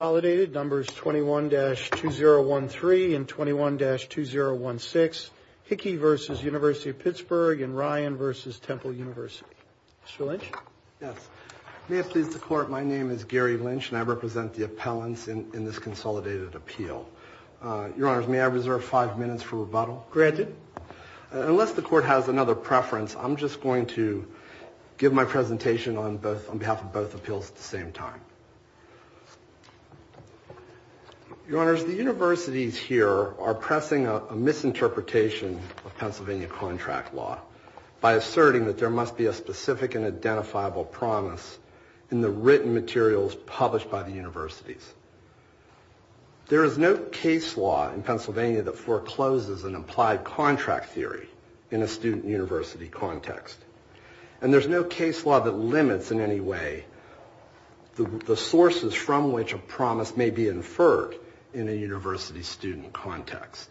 Consolidated, numbers 21-2013 and 21-2016Claire Hickey v. University of Pittsburgh and Ryan v. Temple University. Mr. Lynch? Yes. May it please the Court, my name is Gary Lynch, and I represent the appellants in this consolidated appeal. Your Honors, may I reserve five minutes for rebuttal? Granted. Unless the Court has another preference, I'm just going to give my presentation on behalf of both appeals at the same time. Your Honors, the universities here are pressing a misinterpretation of Pennsylvania contract law by asserting that there must be a specific and identifiable promise in the written materials published by the universities. There is no case law in Pennsylvania that forecloses an implied contract theory in a student-university context. And there's no case law that limits in any way the sources from which a promise may be inferred in a university-student context.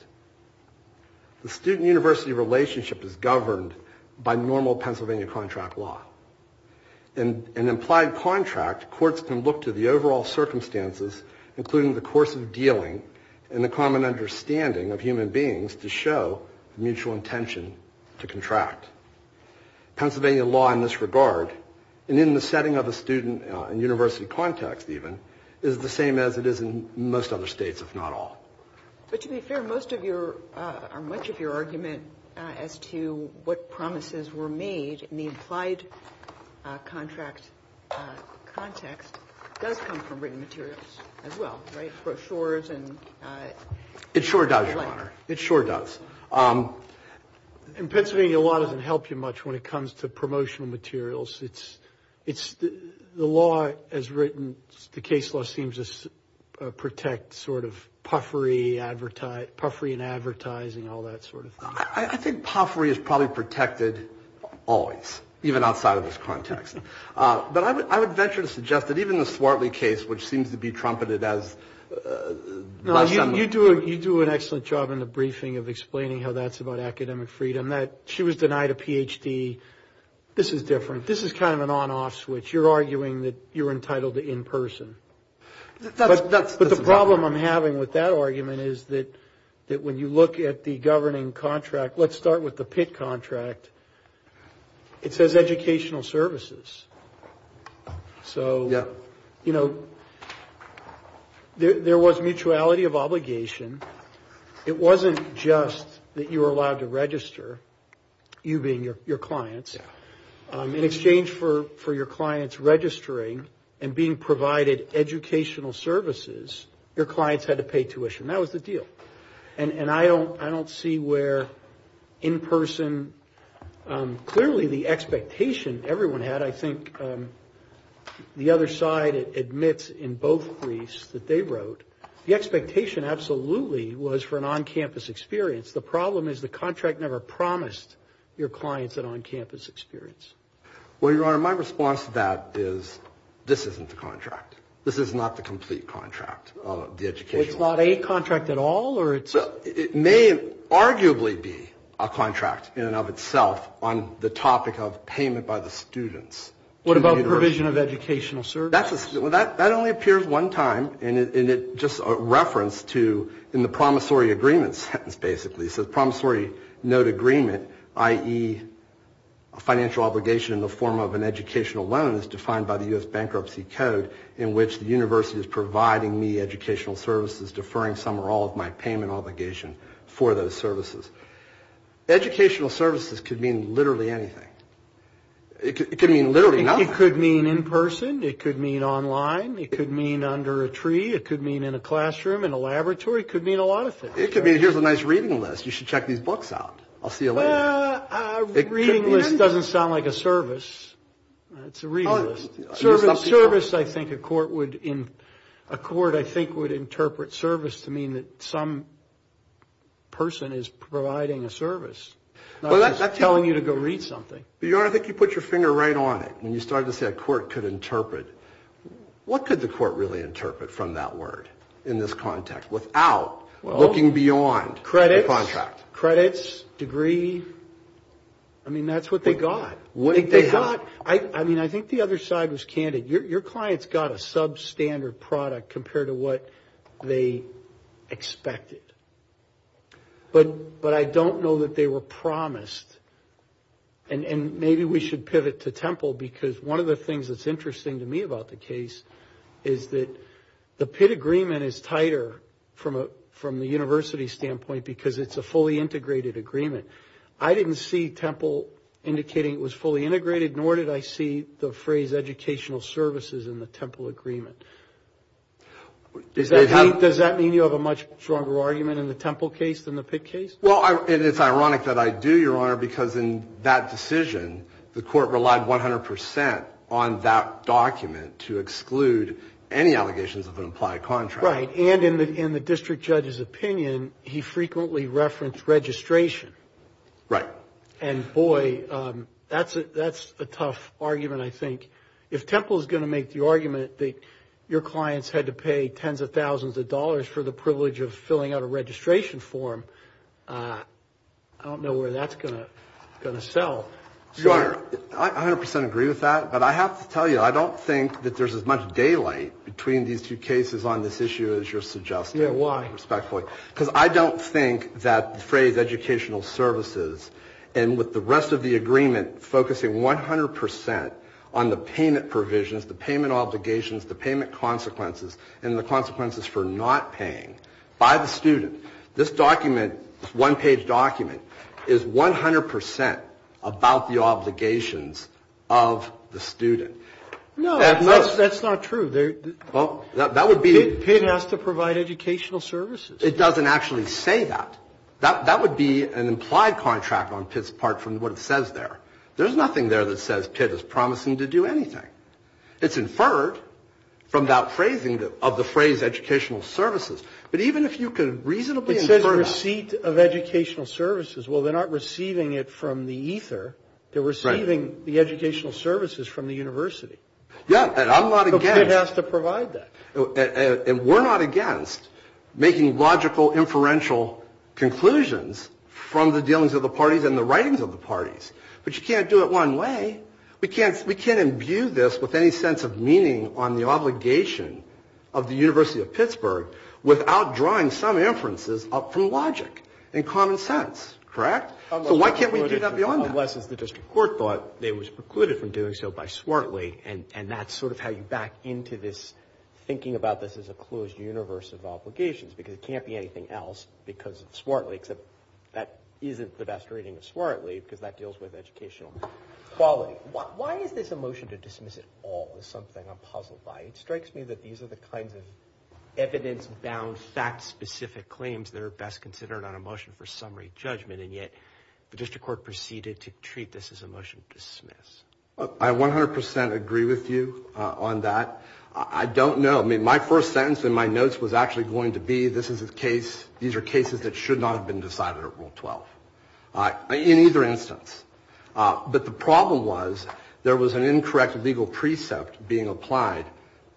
The student-university relationship is governed by normal Pennsylvania contract law. In an implied contract, courts can look to the overall circumstances, including the course of dealing, and the common understanding of human beings to show mutual intention to contract. Pennsylvania law in this regard, and in the setting of a student-university context even, is the same as it is in most other states, if not all. But to be fair, much of your argument as to what promises were made in the implied contract context does come from written materials as well, right? Brochures and... It sure does, Your Honor. It sure does. In Pennsylvania, law doesn't help you much when it comes to promotional materials. The law as written, the case law seems to protect sort of puffery and advertising, all that sort of thing. I think puffery is probably protected always, even outside of this context. But I would venture to suggest that even the Swartley case, which seems to be trumpeted as... No, you do an excellent job in the briefing of explaining how that's about academic freedom. She was denied a PhD. This is different. This is kind of an on-off switch. You're arguing that you're entitled to in-person. But the problem I'm having with that argument is that when you look at the governing contract, let's start with the Pitt contract, it says educational services. So, you know, there was mutuality of obligation. It wasn't just that you were allowed to register, you being your clients. In exchange for your clients registering and being provided educational services, your clients had to pay tuition. That was the deal. And I don't see where in-person... Clearly, the expectation everyone had, I think, the other side admits in both briefs that they wrote, the expectation absolutely was for an on-campus experience. The problem is the contract never promised your clients an on-campus experience. Well, Your Honor, my response to that is this isn't the contract. This is not the complete contract of the educational... It's not a contract at all or it's... It may arguably be a contract in and of itself on the topic of payment by the students. What about provision of educational services? That only appears one time and it's just a reference to... in the promissory agreement sentence, basically. So the promissory note agreement, i.e. financial obligation in the form of an educational loan, is defined by the U.S. Bankruptcy Code in which the university is providing me educational services, deferring some or all of my payment obligation for those services. Educational services could mean literally anything. It could mean literally nothing. It could mean in person. It could mean online. It could mean under a tree. It could mean in a classroom, in a laboratory. It could mean a lot of things. It could mean here's a nice reading list. You should check these books out. I'll see you later. Reading list doesn't sound like a service. It's a reading list. Service, I think a court would interpret service to mean that some person is providing a service, not just telling you to go read something. But, Your Honor, I think you put your finger right on it when you started to say a court could interpret. What could the court really interpret from that word in this context without looking beyond the contract? Credits, degree. I mean, that's what they got. I mean, I think the other side was candid. Your clients got a substandard product compared to what they expected. But I don't know that they were promised. And maybe we should pivot to Temple because one of the things that's interesting to me about the case is that the Pitt agreement is tighter from the university standpoint because it's a fully integrated agreement. I didn't see Temple indicating it was fully integrated, nor did I see the phrase educational services in the Temple agreement. Does that mean you have a much stronger argument in the Temple case than the Pitt case? Well, it's ironic that I do, Your Honor, because in that decision the court relied 100 percent on that document to exclude any allegations of an implied contract. Right. And in the district judge's opinion, he frequently referenced registration. Right. And, boy, that's a tough argument, I think. If Temple is going to make the argument that your clients had to pay tens of thousands of dollars for the privilege of filling out a registration form, I don't know where that's going to sell. Your Honor, I 100 percent agree with that, but I have to tell you I don't think that there's as much daylight between these two cases on this issue as you're suggesting. Yeah, why? Respectfully. Because I don't think that the phrase educational services and with the rest of the agreement focusing 100 percent on the payment provisions, the payment obligations, the payment consequences, and the consequences for not paying by the student, this document, this one-page document, is 100 percent about the obligations of the student. No, that's not true. That would be. Pitt has to provide educational services. It doesn't actually say that. That would be an implied contract on Pitt's part from what it says there. There's nothing there that says Pitt is promising to do anything. It's inferred from that phrasing of the phrase educational services. But even if you could reasonably infer that. It says receipt of educational services. Well, they're not receiving it from the ether. They're receiving the educational services from the university. Yeah, and I'm not against. So Pitt has to provide that. And we're not against making logical inferential conclusions from the dealings of the parties and the writings of the parties. But you can't do it one way. We can't imbue this with any sense of meaning on the obligation of the University of Pittsburgh without drawing some inferences up from logic and common sense, correct? So why can't we do that beyond that? Unless it's the district court thought it was precluded from doing so by Swartley, and that's sort of how you back into this thinking about this as a closed universe of obligations because it can't be anything else because of Swartley, except that isn't the best reading of Swartley because that deals with educational quality. Why is this a motion to dismiss it all is something I'm puzzled by. It strikes me that these are the kinds of evidence-bound, fact-specific claims that are best considered on a motion for summary judgment, and yet the district court proceeded to treat this as a motion to dismiss. I 100% agree with you on that. I don't know. I mean, my first sentence in my notes was actually going to be this is a case, these are cases that should not have been decided at Rule 12, in either instance. But the problem was there was an incorrect legal precept being applied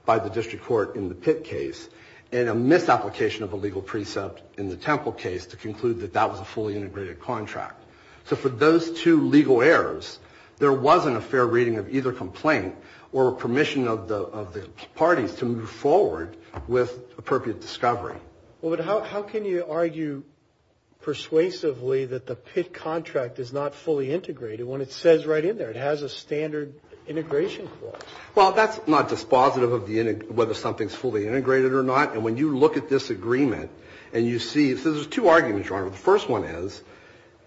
by the district court in the Pitt case and a misapplication of a legal precept in the Temple case to conclude that that was a fully integrated contract. So for those two legal errors, there wasn't a fair reading of either complaint or permission of the parties to move forward with appropriate discovery. Well, but how can you argue persuasively that the Pitt contract is not fully integrated when it says right in there it has a standard integration clause? Well, that's not dispositive of whether something's fully integrated or not. And when you look at this agreement and you see, so there's two arguments, Your Honor. The first one is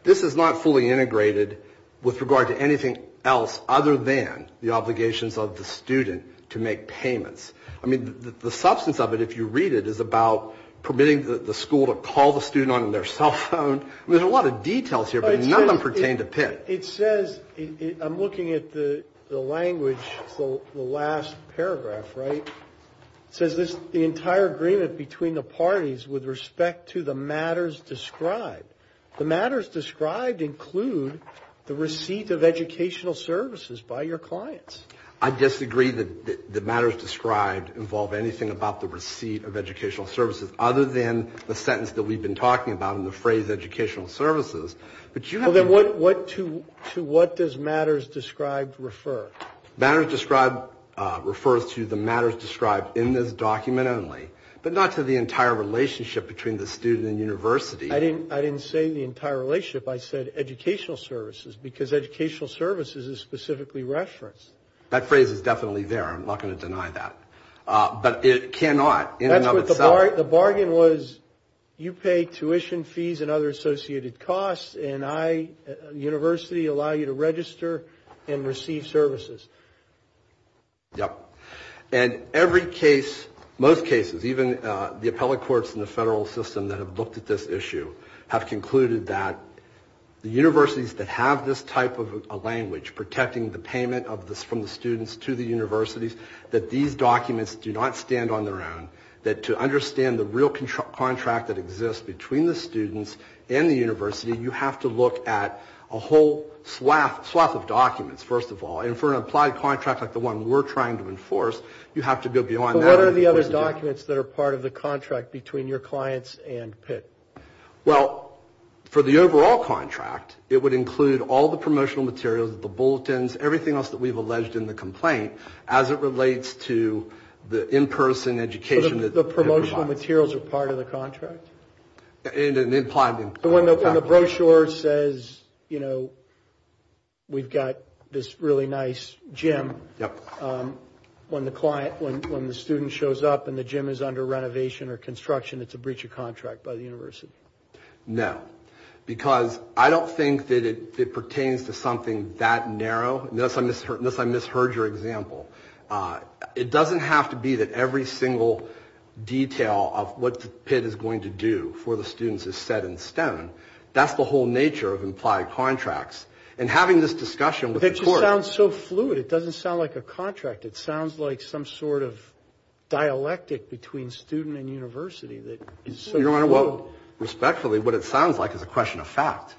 this is not fully integrated with regard to anything else other than the obligations of the student to make payments. I mean, the substance of it, if you read it, is about permitting the school to call the student on their cell phone. I mean, there's a lot of details here, but none of them pertain to Pitt. It says, I'm looking at the language, the last paragraph, right? It says the entire agreement between the parties with respect to the matters described. The matters described include the receipt of educational services by your clients. I disagree that the matters described involve anything about the receipt of educational services other than the sentence that we've been talking about and the phrase educational services. Well, then what to what does matters described refer? Matters described refers to the matters described in this document only, but not to the entire relationship between the student and university. I didn't say the entire relationship. I said educational services because educational services is specifically referenced. That phrase is definitely there. I'm not going to deny that. But it cannot in and of itself. The bargain was you pay tuition fees and other associated costs, and I, the university, allow you to register and receive services. Yep. And every case, most cases, even the appellate courts in the federal system that have looked at this issue, have concluded that the universities that have this type of a language, protecting the payment from the students to the universities, that these documents do not stand on their own, that to understand the real contract that exists between the students and the university, you have to look at a whole swath of documents, first of all. And for an applied contract like the one we're trying to enforce, you have to go beyond that. But what are the other documents that are part of the contract between your clients and Pitt? Well, for the overall contract, it would include all the promotional materials, the bulletins, everything else that we've alleged in the complaint as it relates to the in-person education. So the promotional materials are part of the contract? In an implied contract. When the brochure says, you know, we've got this really nice gym, when the student shows up and the gym is under renovation or construction, it's a breach of contract by the university. No, because I don't think that it pertains to something that narrow. Unless I misheard your example. It doesn't have to be that every single detail of what Pitt is going to do for the students is set in stone. That's the whole nature of implied contracts. And having this discussion with the court. It just sounds so fluid. It doesn't sound like a contract. It sounds like some sort of dialectic between student and university that is so fluid. Your Honor, well, respectfully, what it sounds like is a question of fact.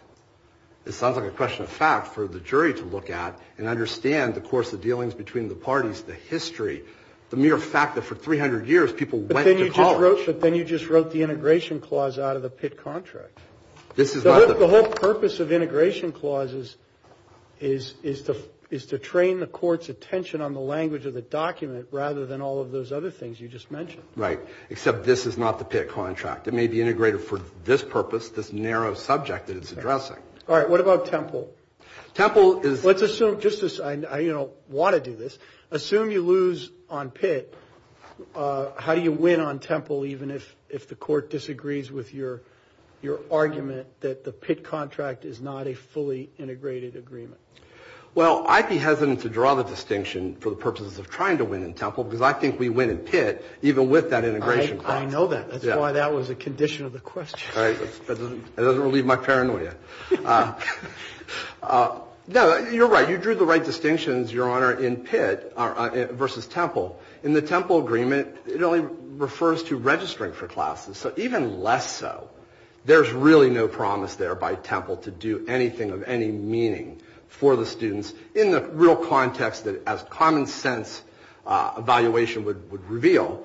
It sounds like a question of fact for the jury to look at and understand the course of dealings between the parties, the history, the mere fact that for 300 years people went to college. But then you just wrote the integration clause out of the Pitt contract. This is not the. The whole purpose of integration clauses is to train the court's attention on the language of the document rather than all of those other things you just mentioned. Right. Except this is not the Pitt contract. It may be integrated for this purpose, this narrow subject that it's addressing. All right. What about Temple? Temple is. Let's assume just this. I don't want to do this. Assume you lose on Pitt. How do you win on Temple even if the court disagrees with your argument that the Pitt contract is not a fully integrated agreement? Well, I'd be hesitant to draw the distinction for the purposes of trying to win in Temple because I think we win in Pitt even with that integration clause. I know that. That's why that was a condition of the question. That doesn't relieve my paranoia. No, you're right. You drew the right distinctions, Your Honor, in Pitt versus Temple. In the Temple agreement, it only refers to registering for classes. So even less so, there's really no promise there by Temple to do anything of any meaning for the students in the real context that as common sense evaluation would reveal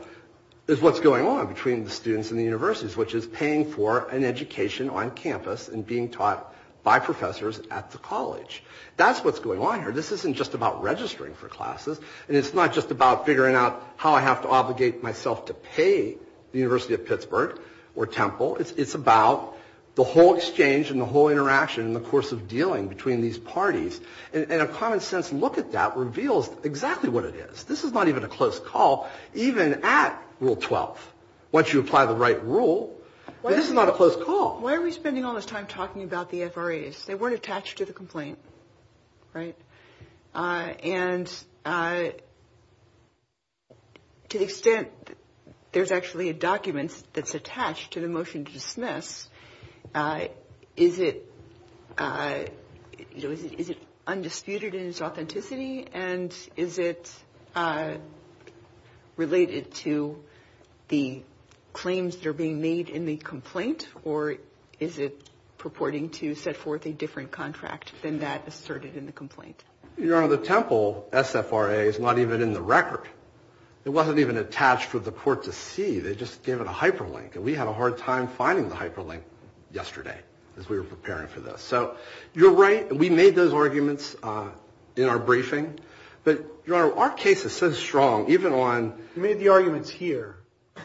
is what's going on between the students and the universities, which is paying for an education on campus and being taught by professors at the college. That's what's going on here. This isn't just about registering for classes. And it's not just about figuring out how I have to obligate myself to pay the University of Pittsburgh or Temple. It's about the whole exchange and the whole interaction in the course of dealing between these parties. And a common sense look at that reveals exactly what it is. This is not even a close call. Even at Rule 12, once you apply the right rule, this is not a close call. Why are we spending all this time talking about the FRAs? They weren't attached to the complaint, right? And to the extent there's actually a document that's attached to the motion to dismiss, is it undisputed in its authenticity? And is it related to the claims that are being made in the complaint? Or is it purporting to set forth a different contract than that asserted in the complaint? Your Honor, the Temple SFRA is not even in the record. It wasn't even attached for the court to see. They just gave it a hyperlink. And we had a hard time finding the hyperlink yesterday as we were preparing for this. So you're right. We made those arguments in our briefing. But, Your Honor, our case is so strong, even on – You made the arguments here.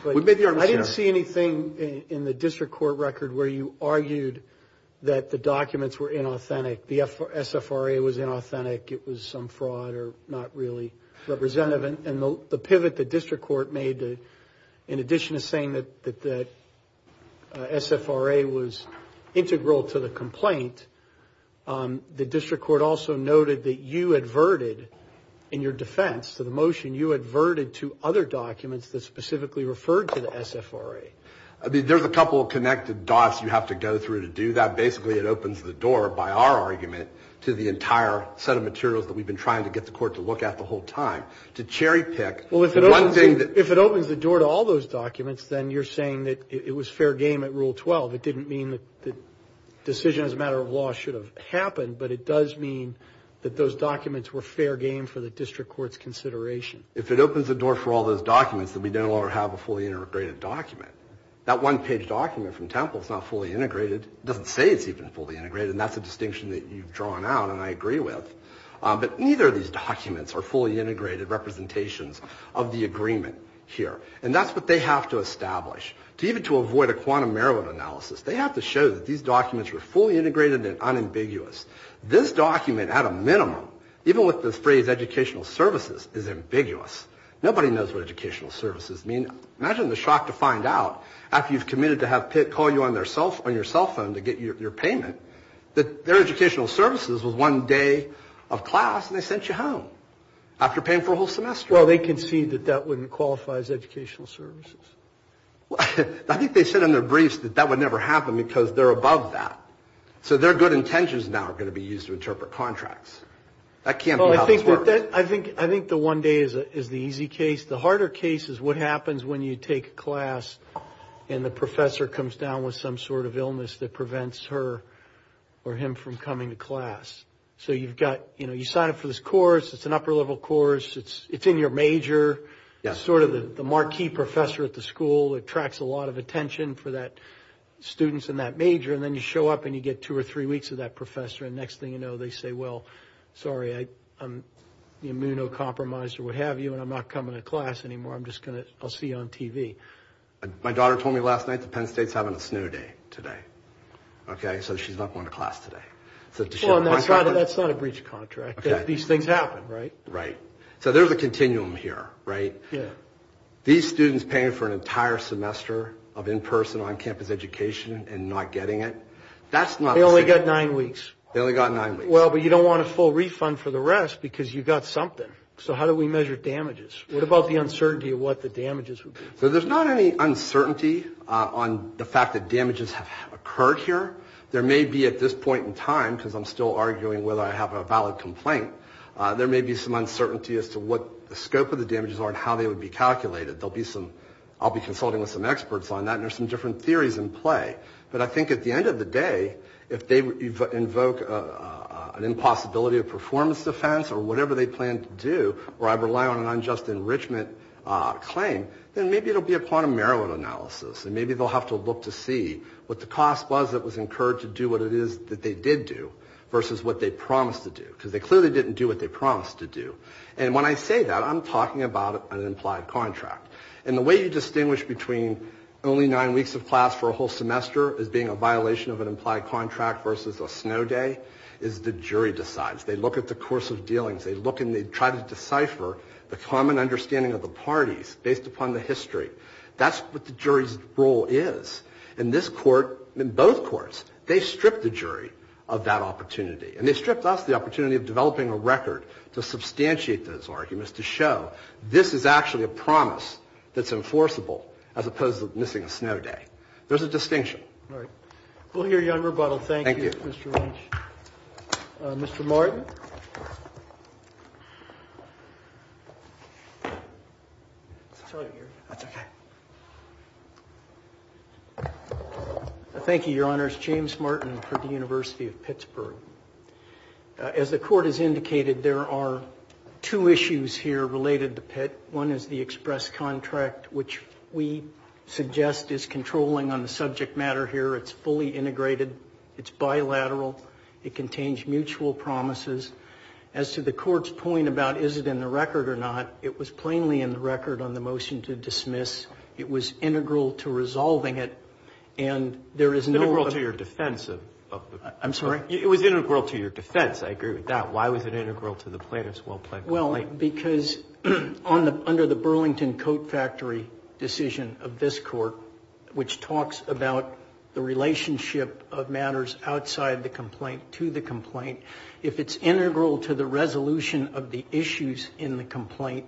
I didn't see anything in the district court record where you argued that the documents were inauthentic. The SFRA was inauthentic. It was some fraud or not really representative. And the pivot the district court made, in addition to saying that the SFRA was integral to the complaint, the district court also noted that you adverted, in your defense to the motion, you adverted to other documents that specifically referred to the SFRA. There's a couple of connected dots you have to go through to do that. Basically, it opens the door, by our argument, to the entire set of materials that we've been trying to get the court to look at the whole time, to cherry-pick. Well, if it opens the door to all those documents, then you're saying that it was fair game at Rule 12. It didn't mean that the decision as a matter of law should have happened, but it does mean that those documents were fair game for the district court's consideration. If it opens the door for all those documents, then we no longer have a fully integrated document. That one-page document from Temple is not fully integrated. It doesn't say it's even fully integrated. And that's a distinction that you've drawn out, and I agree with. But neither of these documents are fully integrated representations of the agreement here. And that's what they have to establish. Even to avoid a quantum error of analysis, they have to show that these documents were fully integrated and unambiguous. This document, at a minimum, even with the phrase educational services, is ambiguous. Nobody knows what educational services mean. Imagine the shock to find out, after you've committed to have Pitt call you on your cell phone to get your payment, that their educational services was one day of class and they sent you home after paying for a whole semester. Well, they concede that that wouldn't qualify as educational services. I think they said in their briefs that that would never happen because they're above that. So their good intentions now are going to be used to interpret contracts. That can't be how this works. I think the one day is the easy case. The harder case is what happens when you take a class and the professor comes down with some sort of illness that prevents her or him from coming to class. So you've got, you know, you sign up for this course. It's an upper-level course. It's in your major. It's sort of the marquee professor at the school. It attracts a lot of attention for that student in that major. And then you show up and you get two or three weeks of that professor. And next thing you know, they say, well, sorry, I'm immunocompromised or what have you, and I'm not coming to class anymore. I'm just going to see you on TV. My daughter told me last night that Penn State is having a snow day today. Okay, so she's not going to class today. That's not a breach of contract. These things happen, right? Right. So there's a continuum here, right? Yeah. These students paying for an entire semester of in-person, on-campus education and not getting it. They only got nine weeks. They only got nine weeks. Well, but you don't want a full refund for the rest because you got something. So how do we measure damages? What about the uncertainty of what the damages would be? So there's not any uncertainty on the fact that damages have occurred here. There may be at this point in time, because I'm still arguing whether I have a valid complaint, there may be some uncertainty as to what the scope of the damages are and how they would be calculated. I'll be consulting with some experts on that, and there's some different theories in play. But I think at the end of the day, if they invoke an impossibility of performance defense or whatever they plan to do, or I rely on an unjust enrichment claim, then maybe it'll be a quantum merit analysis, and maybe they'll have to look to see what the cost was that was incurred to do what it is that they did do versus what they promised to do, because they clearly didn't do what they promised to do. And when I say that, I'm talking about an implied contract. And the way you distinguish between only nine weeks of class for a whole semester as being a violation of an implied contract versus a snow day is the jury decides. They look at the course of dealings. They look and they try to decipher the common understanding of the parties based upon the history. That's what the jury's role is. In this Court, in both courts, they stripped the jury of that opportunity, and they stripped us the opportunity of developing a record to substantiate those arguments to show this is actually a promise that's enforceable as opposed to missing a snow day. There's a distinction. Roberts. We'll hear you on rebuttal. Thank you, Mr. Lynch. Mr. Martin. Thank you, Your Honors. James Martin for the University of Pittsburgh. As the Court has indicated, there are two issues here related to Pitt. One is the express contract, which we suggest is controlling on the subject matter here. It's fully integrated. It's bilateral. It contains mutual promises. As to the Court's point about is it in the record or not, it was plainly in the record on the motion to dismiss. It was integral to resolving it, and there is no— Integral to your defense of the— I'm sorry? It was integral to your defense. I agree with that. Why was it integral to the plaintiff's well-planned complaint? Well, because under the Burlington Coat Factory decision of this Court, which talks about the relationship of matters outside the complaint to the complaint, if it's integral to the resolution of the issues in the complaint,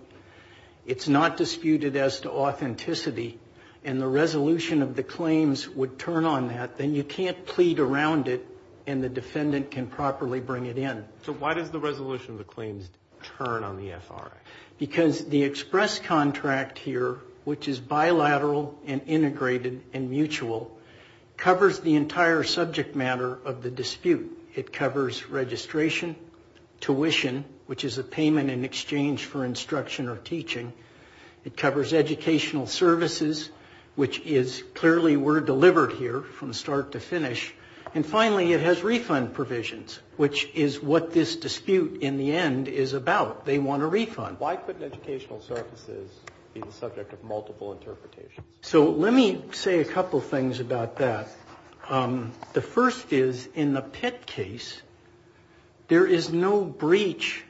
it's not disputed as to authenticity, and the resolution of the claims would turn on that, then you can't plead around it and the defendant can properly bring it in. So why does the resolution of the claims turn on the FRA? Because the express contract here, which is bilateral and integrated and mutual, covers the entire subject matter of the dispute. It covers registration, tuition, which is a payment in exchange for instruction or teaching. It covers educational services, which clearly were delivered here from start to finish. And finally, it has refund provisions, which is what this dispute in the end is about. They want a refund. Why couldn't educational services be the subject of multiple interpretations? So let me say a couple things about that. The first is, in the Pitt case, there is no breach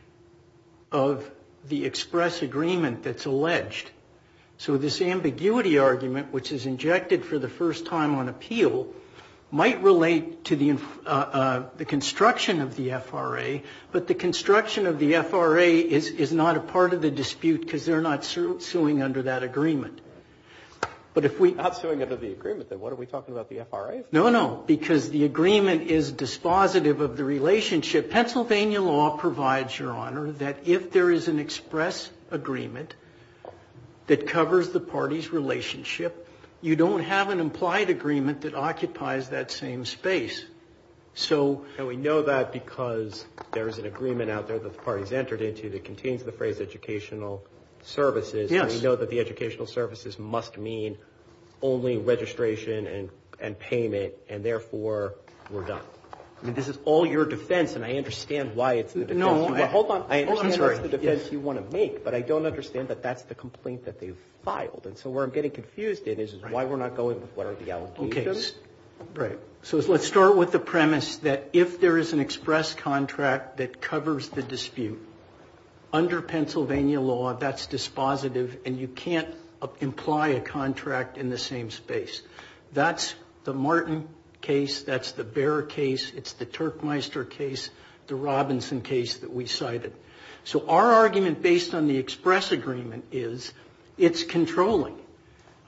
of the express agreement that's alleged. So this ambiguity argument, which is injected for the first time on appeal, might relate to the construction of the FRA, but the construction of the FRA is not a part of the dispute because they're not suing under that agreement. But if we... Not suing under the agreement, then. What, are we talking about the FRA? No, no, because the agreement is dispositive of the relationship. Pennsylvania law provides, Your Honor, that if there is an express agreement that covers the party's relationship, you don't have an implied agreement that occupies that same space. And we know that because there is an agreement out there that the party's entered into that contains the phrase educational services, and we know that the educational services must mean only registration and payment, and therefore we're done. This is all your defense, and I understand why it's the defense you want to make, but I don't understand that that's the complaint that they've filed. And so where I'm getting confused in is why we're not going with what are the allegations. So let's start with the premise that if there is an express contract that covers the dispute, under Pennsylvania law that's dispositive, and you can't imply a contract in the same space. That's the Martin case, that's the Bear case, it's the Turkmeister case, the Robinson case that we cited. So our argument based on the express agreement is it's controlling.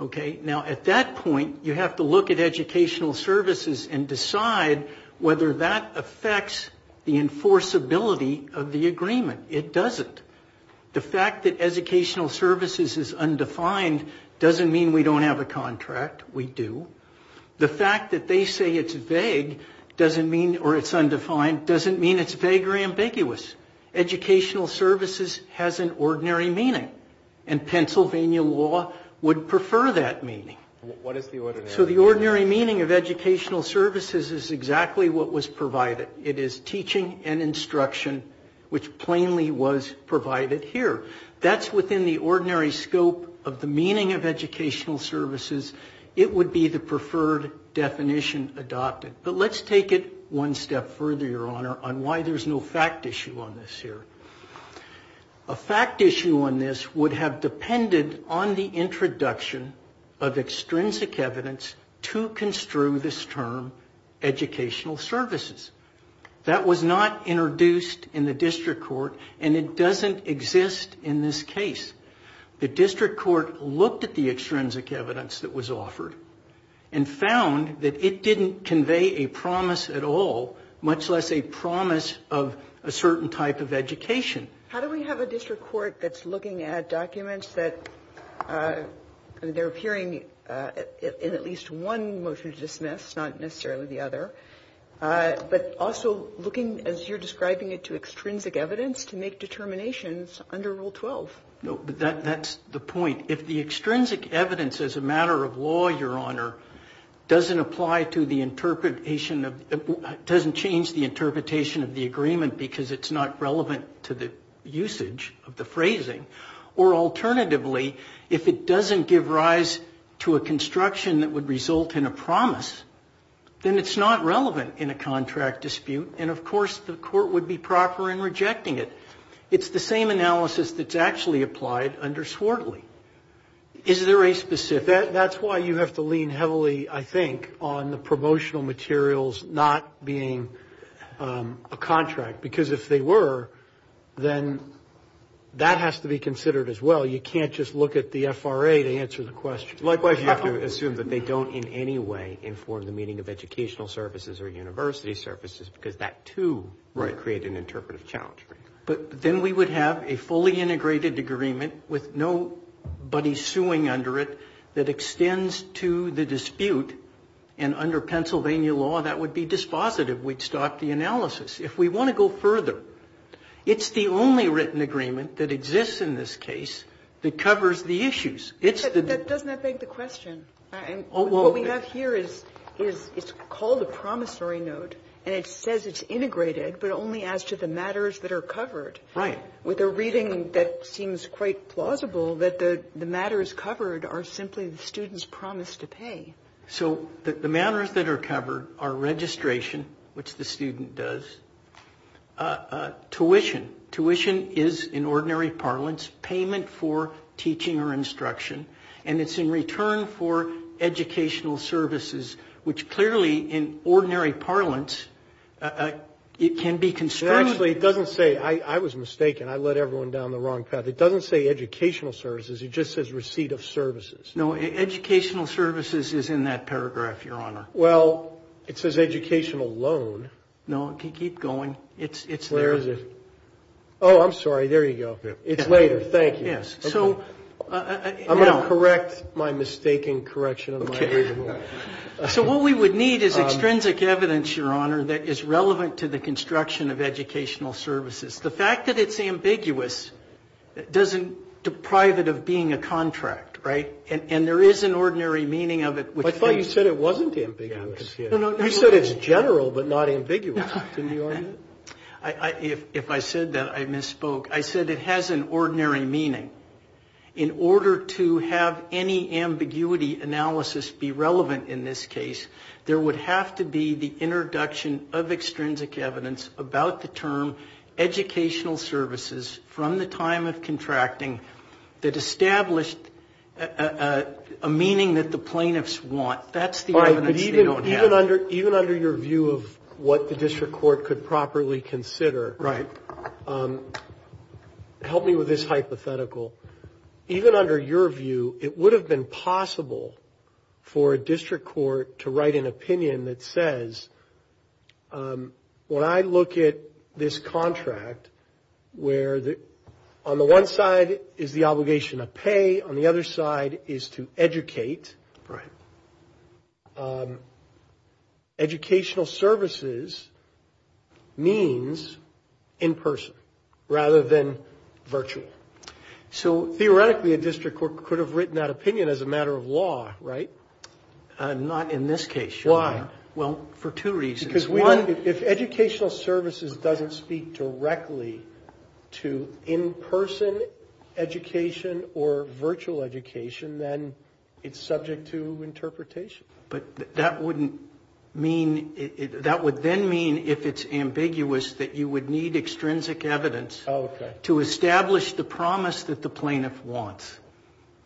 Okay, now at that point you have to look at educational services and decide whether that affects the enforceability of the agreement. It doesn't. The fact that educational services is undefined doesn't mean we don't have a contract. We do. The fact that they say it's vague doesn't mean, or it's undefined, doesn't mean it's vague or ambiguous. Educational services has an ordinary meaning, and Pennsylvania law would prefer that meaning. What is the ordinary meaning? So the ordinary meaning of educational services is exactly what was provided. It is teaching and instruction, which plainly was provided here. That's within the ordinary scope of the meaning of educational services. It would be the preferred definition adopted. But let's take it one step further, Your Honor, on why there's no fact issue on this here. A fact issue on this would have depended on the introduction of extrinsic evidence to construe this term educational services. That was not introduced in the district court, and it doesn't exist in this case. The district court looked at the extrinsic evidence that was offered and found that it didn't convey a promise at all, much less a promise of a certain type of education. How do we have a district court that's looking at documents that they're hearing in at least one motion to dismiss, not necessarily the other, but also looking, as you're describing it, to extrinsic evidence to make determinations under Rule 12? No, but that's the point. It doesn't apply to the interpretation of the agreement because it's not relevant to the usage of the phrasing. Or alternatively, if it doesn't give rise to a construction that would result in a promise, then it's not relevant in a contract dispute, and of course the court would be proper in rejecting it. It's the same analysis that's actually applied under Swartley. Is there a specific? That's why you have to lean heavily, I think, on the promotional materials not being a contract, because if they were, then that has to be considered as well. You can't just look at the FRA to answer the question. Likewise, you have to assume that they don't in any way inform the meaning of educational services or university services because that, too, would create an interpretive challenge. But then we would have a fully integrated agreement with nobody suing under it that extends to the dispute, and under Pennsylvania law, that would be dispositive. We'd stop the analysis. If we want to go further, it's the only written agreement that exists in this case that covers the issues. It's the... Doesn't that beg the question? What we have here is called a promissory note, and it says it's integrated, but only as to the matters that are covered. Right. With a reading that seems quite plausible that the matters covered are simply the students' promise to pay. So the matters that are covered are registration, which the student does, tuition. Tuition is, in ordinary parlance, payment for teaching or instruction, and it's in return for educational services, which clearly, in ordinary parlance, it can be... Actually, it doesn't say... I was mistaken. I led everyone down the wrong path. It doesn't say educational services. It just says receipt of services. No, educational services is in that paragraph, Your Honor. Well, it says educational loan. No, keep going. It's... Where is it? Oh, I'm sorry. There you go. It's later. Thank you. Yes. So... I'm going to correct my mistaken correction of my reading. Okay. So what we would need is extrinsic evidence, Your Honor, that is relevant to the construction of educational services. The fact that it's ambiguous doesn't deprive it of being a contract, right? And there is an ordinary meaning of it. I thought you said it wasn't ambiguous. No, no. You said it's general but not ambiguous. Didn't you argue that? If I said that, I misspoke. I said it has an ordinary meaning. In order to have any ambiguity analysis be relevant in this case, there would have to be the introduction of extrinsic evidence about the term educational services from the time of contracting that established a meaning that the plaintiffs want. That's the evidence they don't have. Even under your view of what the district court could properly consider... Right. Help me with this hypothetical. Even under your view, it would have been possible for a district court to write an opinion that says, When I look at this contract where on the one side is the obligation to pay, on the other side is to educate... Right. Educational services means in person rather than virtual. So theoretically, a district court could have written that opinion as a matter of law, right? Not in this case, Your Honor. Why? Well, for two reasons. Because one, if educational services doesn't speak directly to in-person education or virtual education, then it's subject to interpretation. But that wouldn't mean... That would then mean, if it's ambiguous, that you would need extrinsic evidence... Oh, okay.... to establish the promise that the plaintiff wants.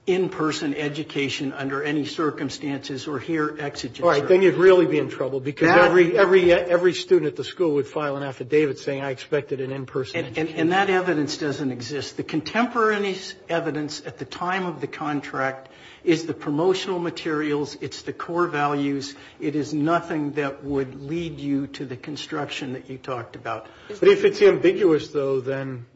In-person education under any circumstances or here exigent circumstances. Right. Then you'd really be in trouble because every student at the school would file an affidavit saying, I expected an in-person education. And that evidence doesn't exist. The contemporary evidence at the time of the contract is the promotional materials. It's the core values. It is nothing that would lead you to the construction that you talked about. But if it's ambiguous, though, then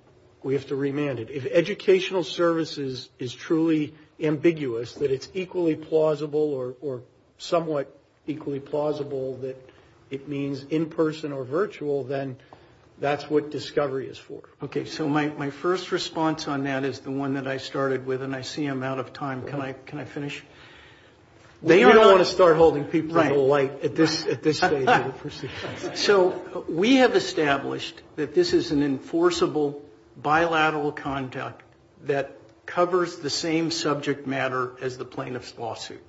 we have to remand it. If educational services is truly ambiguous, that it's equally plausible or somewhat equally plausible that it means in-person or virtual, then that's what discovery is for. Okay. So my first response on that is the one that I started with, and I see I'm out of time. Can I finish? We don't want to start holding people into light at this stage. So we have established that this is an enforceable bilateral conduct that covers the same subject matter as the plaintiff's lawsuit.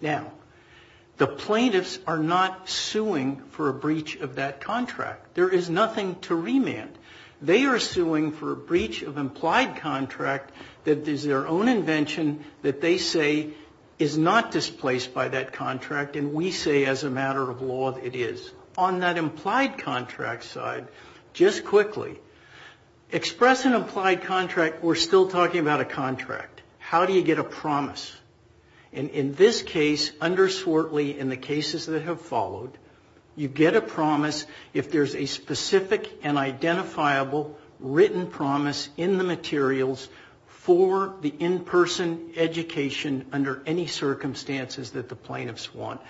Now, the plaintiffs are not suing for a breach of that contract. There is nothing to remand. They are suing for a breach of implied contract that is their own invention that they say is not displaced by that contract, and we say as a matter of law that it is. On that implied contract side, just quickly, express an implied contract. We're still talking about a contract. How do you get a promise? And in this case, under Swartley, in the cases that have followed, you get a promise if there's a specific and identifiable written promise in the materials for the in-person education under any circumstances that the plaintiffs want.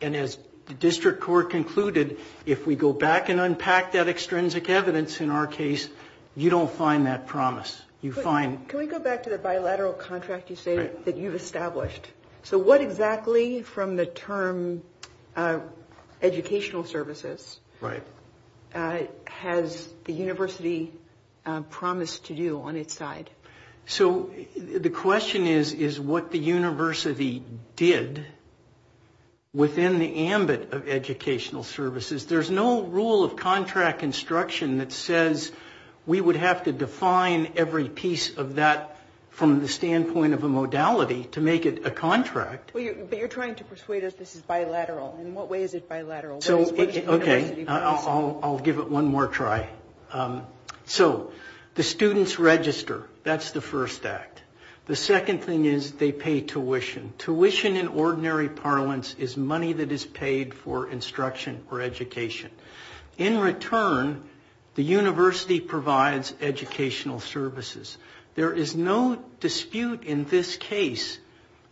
And as the district court concluded, if we go back and unpack that extrinsic evidence in our case, you don't find that promise. You find – Can we go back to the bilateral contract you say that you've established? So what exactly from the term educational services has the university promised to do on its side? So the question is, is what the university did within the ambit of educational services. There's no rule of contract instruction that says we would have to define every piece of that from the standpoint of a modality to make it a contract. But you're trying to persuade us this is bilateral. In what way is it bilateral? Okay, I'll give it one more try. So the students register. That's the first act. The second thing is they pay tuition. Tuition in ordinary parlance is money that is paid for instruction or education. In return, the university provides educational services. There is no dispute in this case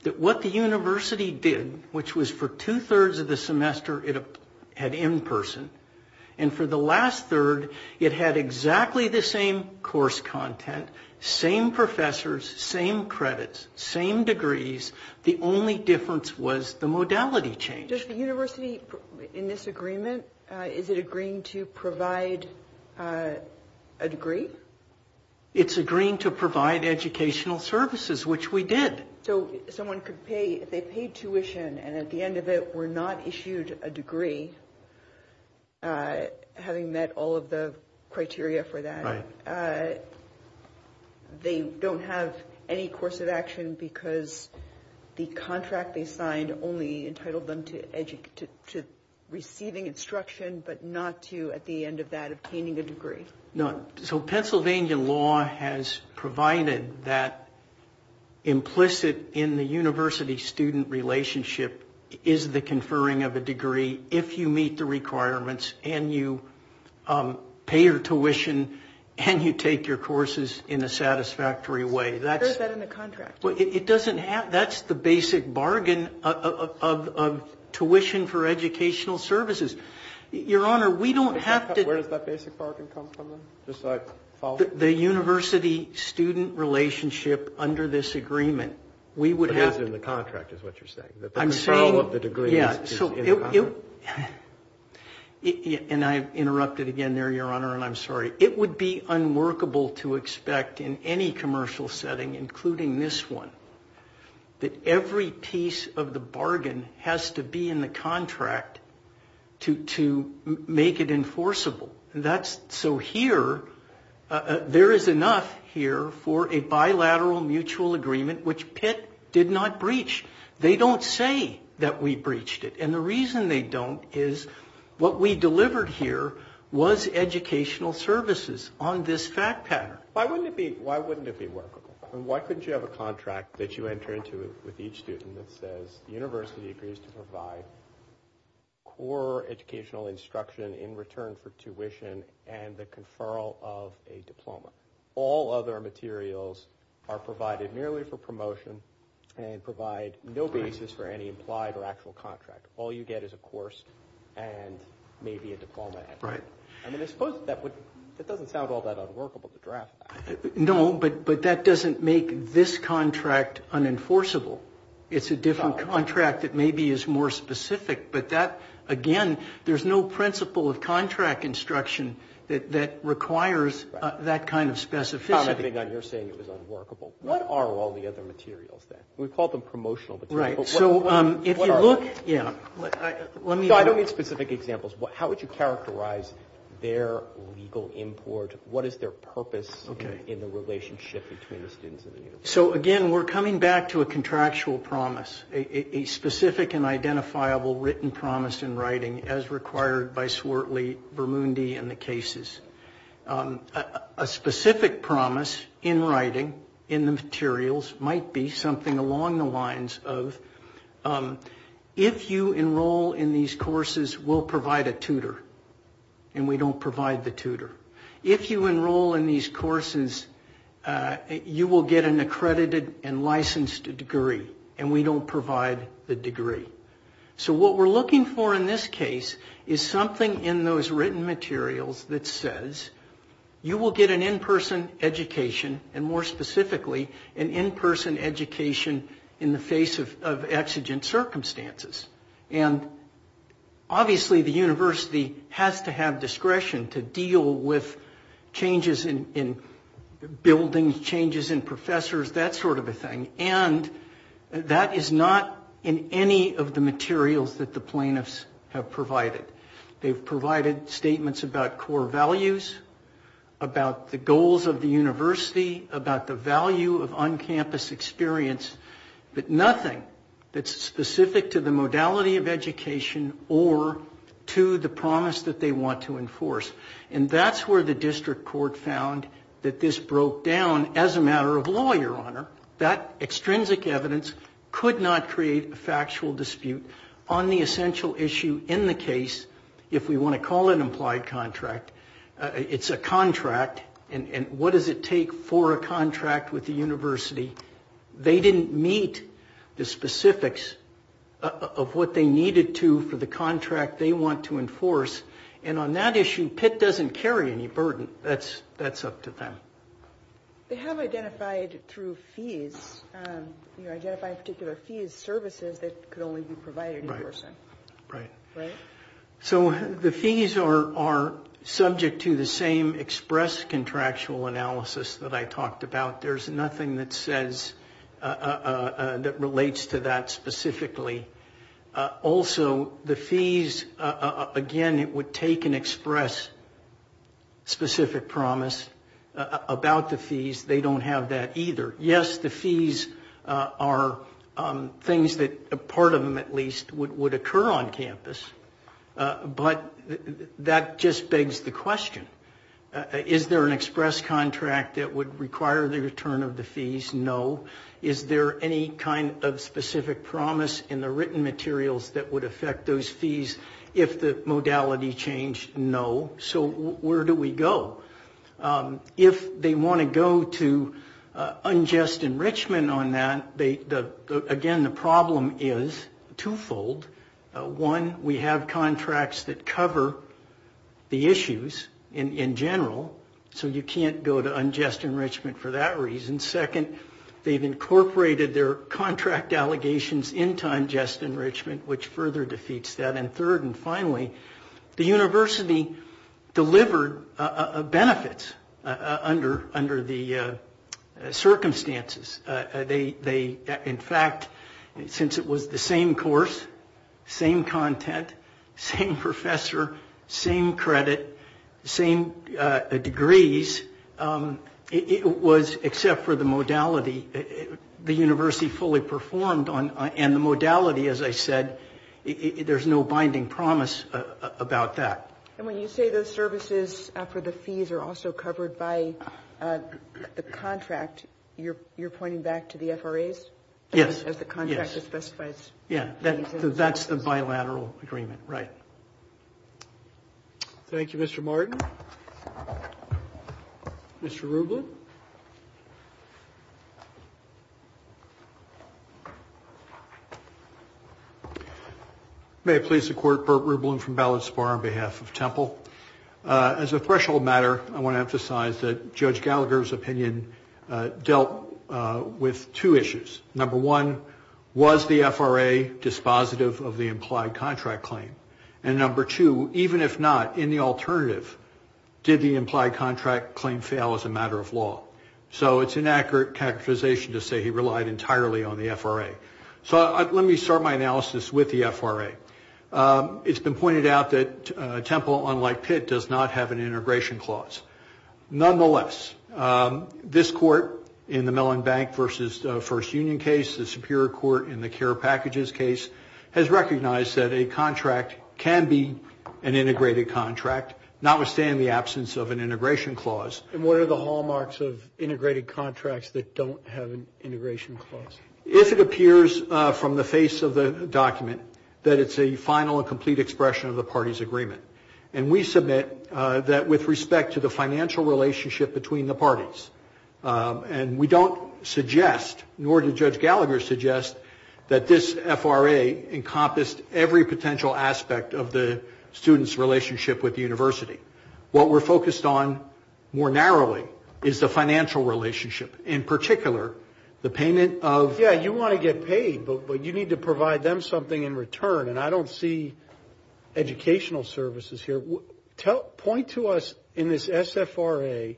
that what the university did, which was for two-thirds of the semester it had in-person, and for the last third it had exactly the same course content, same professors, same credits, same degrees. The only difference was the modality change. Does the university in this agreement, is it agreeing to provide a degree? It's agreeing to provide educational services, which we did. So someone could pay, if they paid tuition and at the end of it were not issued a degree, having met all of the criteria for that, they don't have any course of action because the contract they signed only entitled them to receiving instruction but not to, at the end of that, obtaining a degree. So Pennsylvania law has provided that implicit in the university-student relationship is the conferring of a degree if you meet the requirements and you pay your tuition and you take your courses in a satisfactory way. Where is that in the contract? That's the basic bargain of tuition for educational services. Your Honor, we don't have to... Where does that basic bargain come from then? The university-student relationship under this agreement, we would have... But it isn't in the contract is what you're saying? I'm saying... And I interrupted again there, Your Honor, and I'm sorry. It would be unworkable to expect in any commercial setting, including this one, that every piece of the bargain has to be in the contract to make it enforceable. So here, there is enough here for a bilateral mutual agreement which Pitt did not breach. They don't say that we breached it, and the reason they don't is what we delivered here was educational services on this fact pattern. Why wouldn't it be workable? And why couldn't you have a contract that you enter into with each student that says the university agrees to provide core educational instruction in return for tuition and the conferral of a diploma? All other materials are provided merely for promotion and provide no basis for any implied or actual contract. All you get is a course and maybe a diploma. Right. I mean, I suppose that doesn't sound all that unworkable to draft that. No, but that doesn't make this contract unenforceable. It's a different contract that maybe is more specific, but that, again, there's no principle of contract instruction that requires that kind of specificity. You're saying it was unworkable. What are all the other materials then? We call them promotional materials. Right. So if you look, yeah. I don't need specific examples. How would you characterize their legal import? What is their purpose in the relationship between the students and the university? So, again, we're coming back to a contractual promise, a specific and identifiable written promise in writing as required by Swartley, Bermundi, and the cases. A specific promise in writing in the materials might be something along the lines of if you enroll in these courses, we'll provide a tutor, and we don't provide the tutor. If you enroll in these courses, you will get an accredited and licensed degree, and we don't provide the degree. So what we're looking for in this case is something in those written materials that says you will get an in-person education and, more specifically, an in-person education in the face of exigent circumstances. And, obviously, the university has to have discretion to deal with changes in buildings, changes in professors, that sort of a thing, and that is not in any of the materials that the plaintiffs have provided. They've provided statements about core values, about the goals of the university, about the value of on-campus experience, but nothing that's specific to the modality of education or to the promise that they want to enforce. And that's where the district court found that this broke down as a matter of law, Your Honor. That extrinsic evidence could not create a factual dispute on the essential issue in the case, if we want to call it an implied contract. It's a contract, and what does it take for a contract with the university? They didn't meet the specifics of what they needed to for the contract they want to enforce, and on that issue, Pitt doesn't carry any burden. That's up to them. They have identified through fees, you know, identified particular fees, services that could only be provided in person. Right. Right? So the fees are subject to the same express contractual analysis that I talked about. There's nothing that says, that relates to that specifically. Also, the fees, again, it would take an express specific promise about the fees. They don't have that either. Yes, the fees are things that, part of them at least, would occur on campus, but that just begs the question. Is there an express contract that would require the return of the fees? No. Is there any kind of specific promise in the written materials that would affect those fees if the modality changed? No. So where do we go? If they want to go to unjust enrichment on that, again, the problem is twofold. One, we have contracts that cover the issues in general, so you can't go to unjust enrichment for that reason. Second, they've incorporated their contract allegations in time just enrichment, which further defeats that. And third and finally, the university delivered benefits under the circumstances. They, in fact, since it was the same course, same content, same professor, same credit, same degrees, it was, except for the modality, the university fully performed and the modality, as I said, there's no binding promise about that. And when you say those services for the fees are also covered by the contract, you're pointing back to the FRAs? Yes. As the contract specifies. Yeah, that's the bilateral agreement, right. Thank you, Mr. Martin. Mr. Rublin. May it please the Court, Burt Rublin from Ballots Bar on behalf of Temple. As a threshold matter, I want to emphasize that Judge Gallagher's opinion dealt with two issues. Number one, was the FRA dispositive of the implied contract claim? And number two, even if not, in the alternative, did the implied contract claim fail as a matter of law? So it's an accurate characterization to say he relied entirely on the FRA. So let me start my analysis with the FRA. It's been pointed out that Temple, unlike Pitt, does not have an integration clause. Nonetheless, this Court in the Mellon Bank v. First Union case, the Superior Court in the CARE Packages case, has recognized that a contract can be an integrated contract, notwithstanding the absence of an integration clause. And what are the hallmarks of integrated contracts that don't have an integration clause? If it appears from the face of the document that it's a final and complete expression of the party's agreement. And we submit that with respect to the financial relationship between the parties. And we don't suggest, nor did Judge Gallagher suggest, that this FRA encompassed every potential aspect of the student's relationship with the university. What we're focused on more narrowly is the financial relationship, in particular the payment of- Yeah, you want to get paid, but you need to provide them something in return. And I don't see educational services here. Point to us in this SFRA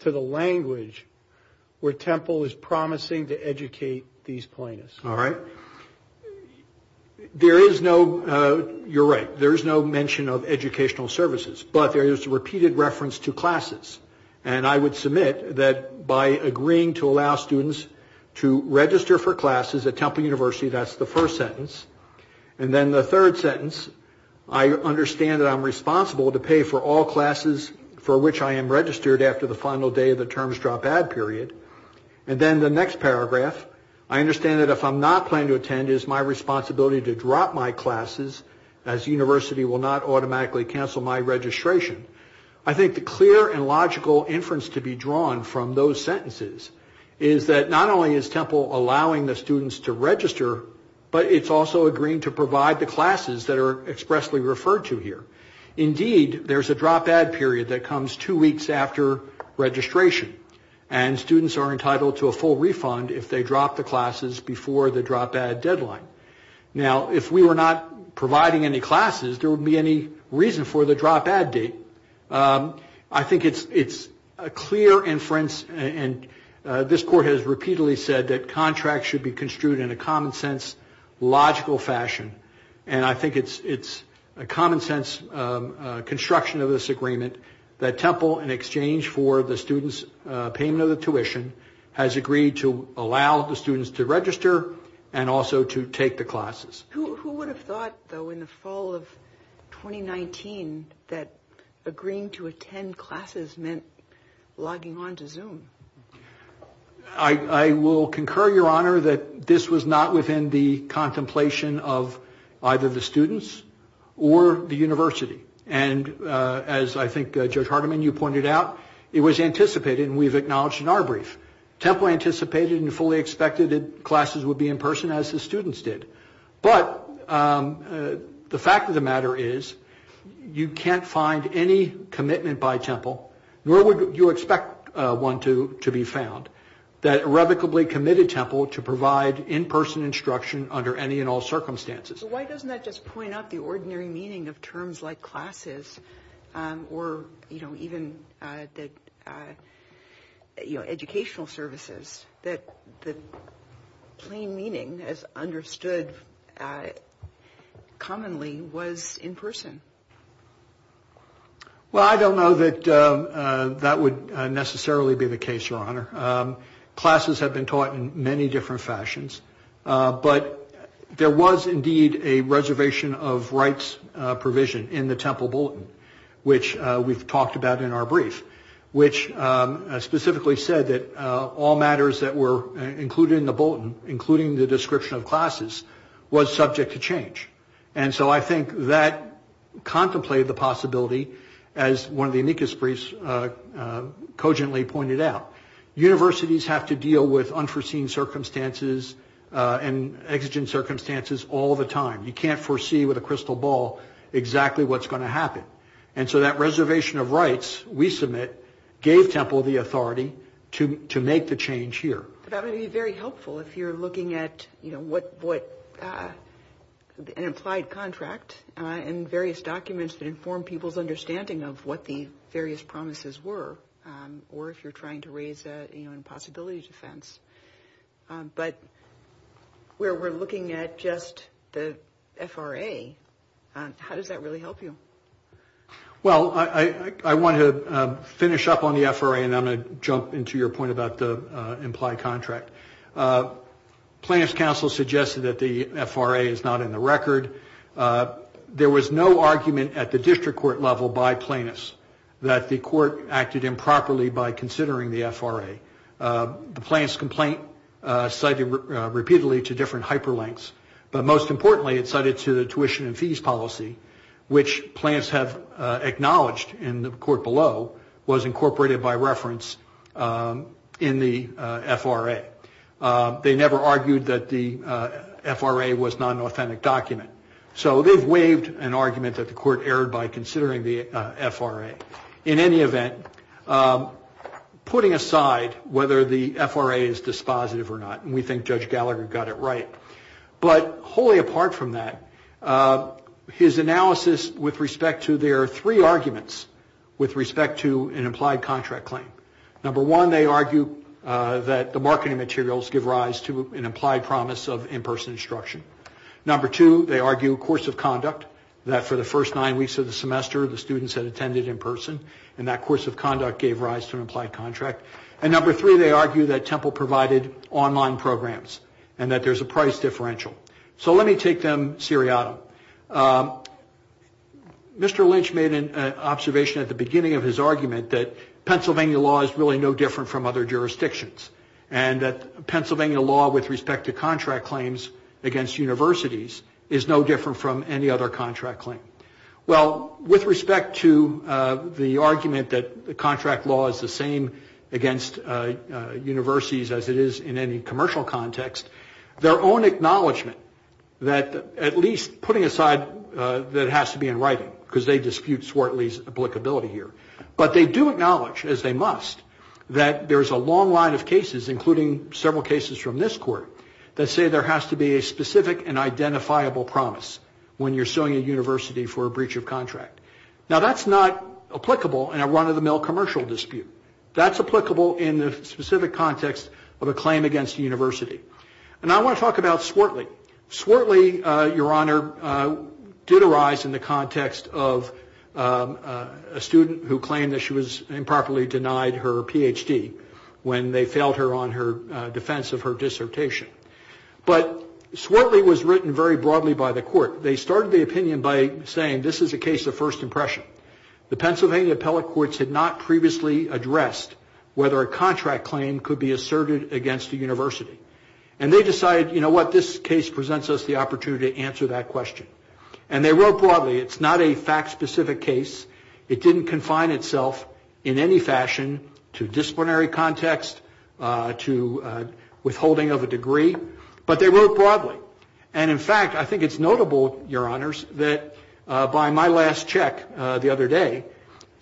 to the language where Temple is promising to educate these plaintiffs. All right. There is no- you're right. There is no mention of educational services. But there is a repeated reference to classes. And I would submit that by agreeing to allow students to register for classes at Temple University, that's the first sentence. And then the third sentence, I understand that I'm responsible to pay for all classes for which I am registered after the final day of the terms drop-out period. And then the next paragraph, I understand that if I'm not planning to attend, it is my responsibility to drop my classes as the university will not automatically cancel my registration. I think the clear and logical inference to be drawn from those sentences is that not only is Temple allowing the students to register, but it's also agreeing to provide the classes that are expressly referred to here. Indeed, there's a drop-out period that comes two weeks after registration. And students are entitled to a full refund if they drop the classes before the drop-out deadline. Now, if we were not providing any classes, there wouldn't be any reason for the drop-out date. I think it's a clear inference. And this court has repeatedly said that contracts should be construed in a common-sense, logical fashion. And I think it's a common-sense construction of this agreement that Temple, in exchange for the students' payment of the tuition, has agreed to allow the students to register and also to take the classes. Who would have thought, though, in the fall of 2019 that agreeing to attend classes meant logging on to Zoom? I will concur, Your Honor, that this was not within the contemplation of either the students or the university. And as I think, Judge Hardiman, you pointed out, it was anticipated and we've acknowledged in our brief. Temple anticipated and fully expected that classes would be in person, as the students did. But the fact of the matter is you can't find any commitment by Temple, nor would you expect one to be found, that irrevocably committed Temple to provide in-person instruction under any and all circumstances. So why doesn't that just point out the ordinary meaning of terms like classes or, you know, even the educational services that the plain meaning as understood commonly was in person? Well, I don't know that that would necessarily be the case, Your Honor. Classes have been taught in many different fashions, but there was indeed a reservation of rights provision in the Temple Bulletin, which we've talked about in our brief, which specifically said that all matters that were included in the Bulletin, including the description of classes, was subject to change. And so I think that contemplated the possibility, as one of the amicus briefs cogently pointed out. Universities have to deal with unforeseen circumstances and exigent circumstances all the time. You can't foresee with a crystal ball exactly what's going to happen. And so that reservation of rights we submit gave Temple the authority to make the change here. That would be very helpful if you're looking at, you know, what an implied contract and various documents that inform people's understanding of what the various promises were, or if you're trying to raise an impossibility defense. But where we're looking at just the FRA, how does that really help you? Well, I want to finish up on the FRA, and I'm going to jump into your point about the implied contract. Plaintiff's counsel suggested that the FRA is not in the record. There was no argument at the district court level by plaintiffs that the court acted improperly by considering the FRA. The plaintiff's complaint cited repeatedly to different hyperlinks, but most importantly it cited to the tuition and fees policy, which plaintiffs have acknowledged in the court below was incorporated by reference in the FRA. They never argued that the FRA was not an authentic document. So they've waived an argument that the court erred by considering the FRA. In any event, putting aside whether the FRA is dispositive or not, and we think Judge Gallagher got it right, but wholly apart from that, his analysis with respect to there are three arguments with respect to an implied contract claim. Number one, they argue that the marketing materials give rise to an implied promise of in-person instruction. Number two, they argue course of conduct, that for the first nine weeks of the semester, the students had attended in person, and that course of conduct gave rise to an implied contract. And number three, they argue that Temple provided online programs and that there's a price differential. So let me take them seriatim. Mr. Lynch made an observation at the beginning of his argument that Pennsylvania law is really no different from other jurisdictions and that Pennsylvania law with respect to contract claims against universities is no different from any other contract claim. Well, with respect to the argument that the contract law is the same against universities as it is in any commercial context, their own acknowledgment that at least putting aside that it has to be in writing, because they dispute Swartley's applicability here, but they do acknowledge, as they must, that there is a long line of cases, including several cases from this court, that say there has to be a specific and identifiable promise when you're suing a university for a breach of contract. Now, that's not applicable in a run-of-the-mill commercial dispute. That's applicable in the specific context of a claim against a university. And I want to talk about Swartley. Swartley, Your Honor, did arise in the context of a student who claimed that she was improperly denied her Ph.D. when they failed her on her defense of her dissertation. But Swartley was written very broadly by the court. They started the opinion by saying this is a case of first impression. The Pennsylvania appellate courts had not previously addressed whether a contract claim could be asserted against a university. And they decided, you know what, this case presents us the opportunity to answer that question. And they wrote broadly, it's not a fact-specific case. It didn't confine itself in any fashion to disciplinary context, to withholding of a degree. But they wrote broadly. And, in fact, I think it's notable, Your Honors, that by my last check the other day,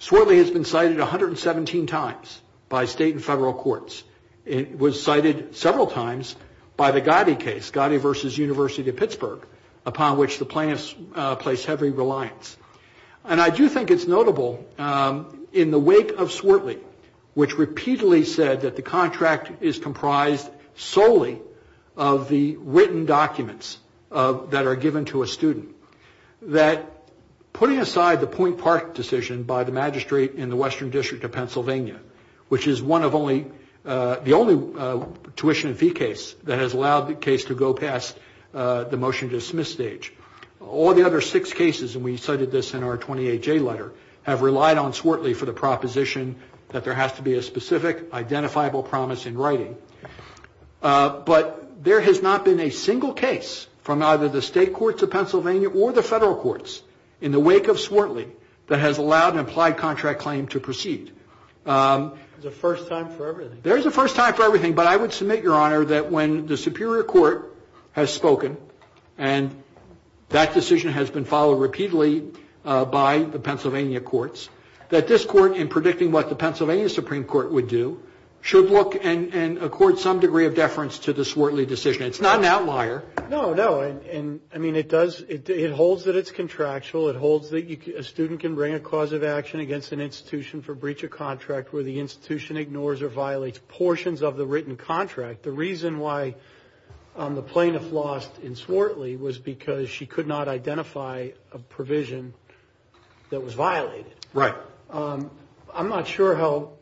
Swartley has been cited 117 times by state and federal courts. It was cited several times by the Gotti case, Gotti v. University of Pittsburgh, upon which the plaintiffs place heavy reliance. And I do think it's notable, in the wake of Swartley, which repeatedly said that the contract is comprised solely of the written documents that are given to a student, that putting aside the Point Park decision by the magistrate in the Western District of Pennsylvania, which is the only tuition and fee case that has allowed the case to go past the motion to dismiss stage, all the other six cases, and we cited this in our 28-J letter, have relied on Swartley for the proposition that there has to be a specific, identifiable promise in writing. But there has not been a single case from either the state courts of Pennsylvania or the federal courts, in the wake of Swartley, that has allowed an implied contract claim to proceed. There's a first time for everything. But I would submit, Your Honor, that when the Superior Court has spoken, and that decision has been followed repeatedly by the Pennsylvania courts, that this Court, in predicting what the Pennsylvania Supreme Court would do, should look and accord some degree of deference to the Swartley decision. It's not an outlier. No, no. I mean, it does, it holds that it's contractual. It holds that a student can bring a cause of action against an institution for breach of contract where the institution ignores or violates portions of the written contract. The reason why the plaintiff lost in Swartley was because she could not identify a provision that was violated. Right. I'm not sure how,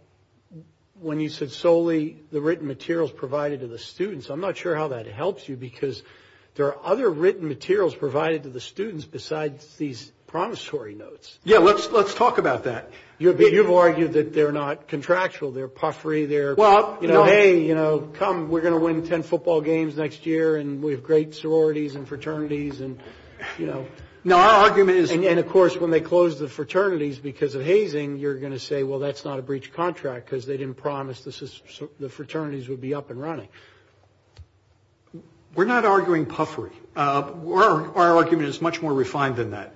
when you said solely the written materials provided to the students, I'm not sure how that helps you because there are other written materials provided to the students besides these promissory notes. Yeah, let's talk about that. You've argued that they're not contractual. They're puffery. They're, you know, hey, you know, come, we're going to win ten football games next year, and we have great sororities and fraternities, and, you know. No, our argument is. And, of course, when they close the fraternities because of hazing, you're going to say, well, that's not a breach of contract because they didn't promise the fraternities would be up and running. We're not arguing puffery. Our argument is much more refined than that.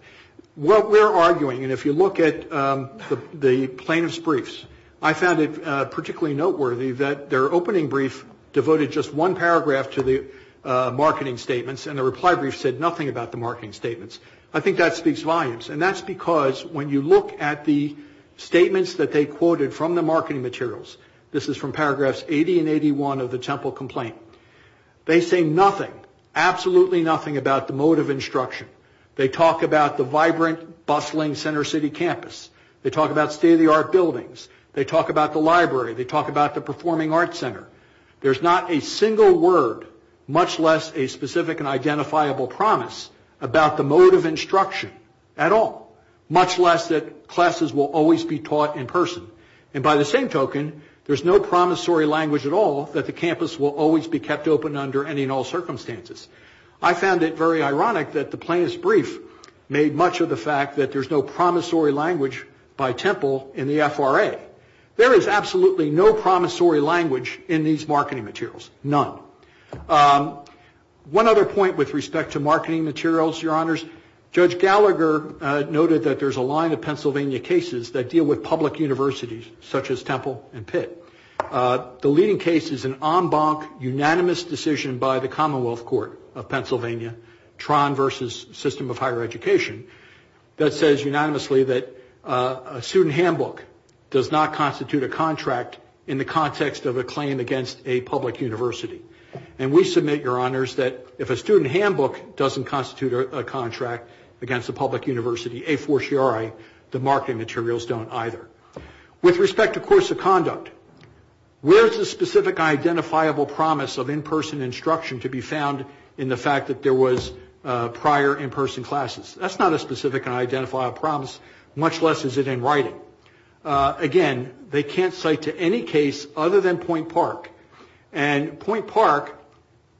What we're arguing, and if you look at the plaintiff's briefs, I found it particularly noteworthy that their opening brief devoted just one paragraph to the marketing statements, and the reply brief said nothing about the marketing statements. I think that speaks volumes, and that's because when you look at the statements that they quoted from the marketing materials, this is from paragraphs 80 and 81 of the Temple complaint, they say nothing, absolutely nothing about the mode of instruction. They talk about the vibrant, bustling center city campus. They talk about state-of-the-art buildings. They talk about the library. They talk about the performing arts center. There's not a single word, much less a specific and identifiable promise, about the mode of instruction at all, much less that classes will always be taught in person. And by the same token, there's no promissory language at all that the campus will always be kept open under any and all circumstances. I found it very ironic that the plaintiff's brief made much of the fact that there's no promissory language by Temple in the FRA. There is absolutely no promissory language in these marketing materials, none. One other point with respect to marketing materials, Your Honors, Judge Gallagher noted that there's a line of Pennsylvania cases that deal with public universities, such as Temple and Pitt. The leading case is an en banc unanimous decision by the Commonwealth Court of Pennsylvania, Tron versus System of Higher Education, that says unanimously that a student handbook does not constitute a contract in the context of a claim against a public university. And we submit, Your Honors, that if a student handbook doesn't constitute a contract against a public university, a fortiori, the marketing materials don't either. With respect to course of conduct, where is the specific identifiable promise of in-person instruction to be found in the fact that there was prior in-person classes? That's not a specific identifiable promise, much less is it in writing. Again, they can't cite to any case other than Point Park. And Point Park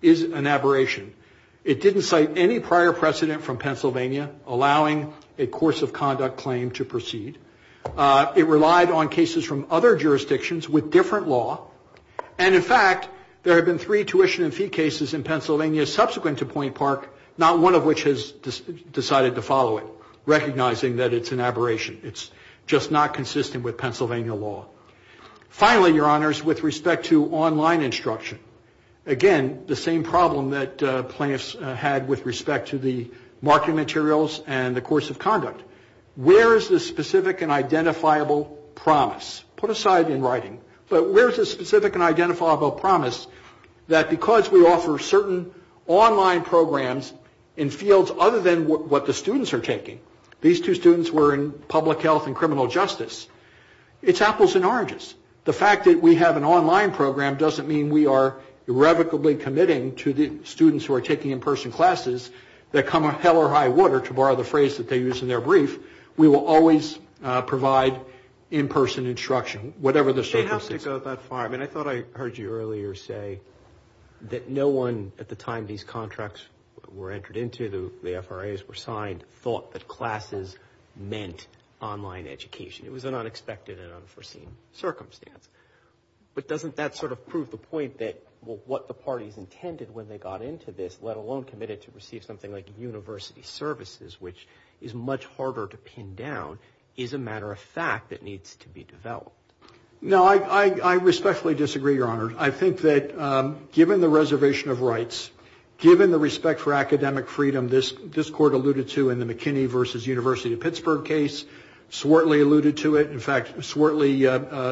is an aberration. It didn't cite any prior precedent from Pennsylvania allowing a course of conduct claim to proceed. It relied on cases from other jurisdictions with different law. And, in fact, there have been three tuition and fee cases in Pennsylvania subsequent to Point Park, not one of which has decided to follow it, recognizing that it's an aberration. It's just not consistent with Pennsylvania law. Finally, Your Honors, with respect to online instruction, again, the same problem that plaintiffs had with respect to the marketing materials and the course of conduct. Where is the specific and identifiable promise? Put aside in writing. But where is the specific and identifiable promise that because we offer certain online programs in fields other than what the students are taking, these two students were in public health and criminal justice, it's apples and oranges. The fact that we have an online program doesn't mean we are irrevocably committing to the students who are taking in-person classes that come a hell or high water, to borrow the phrase that they use in their brief, we will always provide in-person instruction, whatever the circumstances. It doesn't have to go that far. I mean, I thought I heard you earlier say that no one at the time these contracts were entered into, the FRAs were signed, thought that classes meant online education. It was an unexpected and unforeseen circumstance. But doesn't that sort of prove the point that what the parties intended when they got into this, let alone committed to receive something like university services, which is much harder to pin down, is a matter of fact that needs to be developed? No, I respectfully disagree, Your Honor. I think that given the reservation of rights, given the respect for academic freedom, this Court alluded to in the McKinney v. University of Pittsburgh case, Swartley alluded to it. In fact, Swartley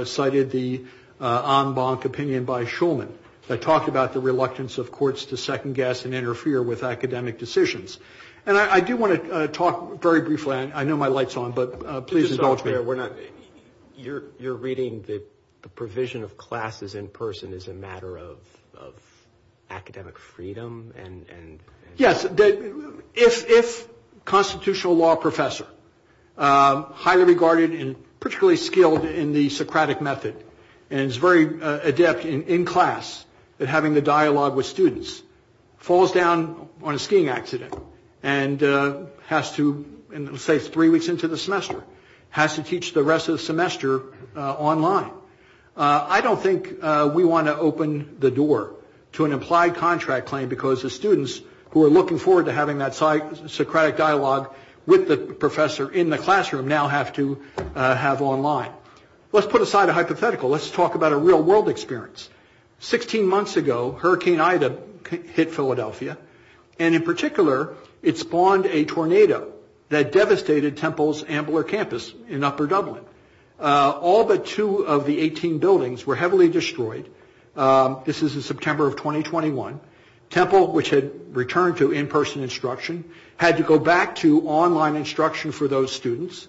cited the Ombank opinion by Shulman that talked about the reluctance of courts to second-guess and interfere with academic decisions. And I do want to talk very briefly, and I know my light's on, but please indulge me. You're reading that the provision of classes in person is a matter of academic freedom? Yes. If a constitutional law professor, highly regarded and particularly skilled in the Socratic method, and is very adept in class at having the dialogue with students, falls down on a skiing accident and has to, say three weeks into the semester, has to teach the rest of the semester online, I don't think we want to open the door to an implied contract claim because the students who are looking forward to having that Socratic dialogue with the professor in the classroom now have to have online. Let's put aside a hypothetical. Let's talk about a real-world experience. Sixteen months ago, Hurricane Ida hit Philadelphia, and in particular, it spawned a tornado that devastated Temple's Ambler campus in Upper Dublin. All but two of the 18 buildings were heavily destroyed. This is in September of 2021. Temple, which had returned to in-person instruction, had to go back to online instruction for those students.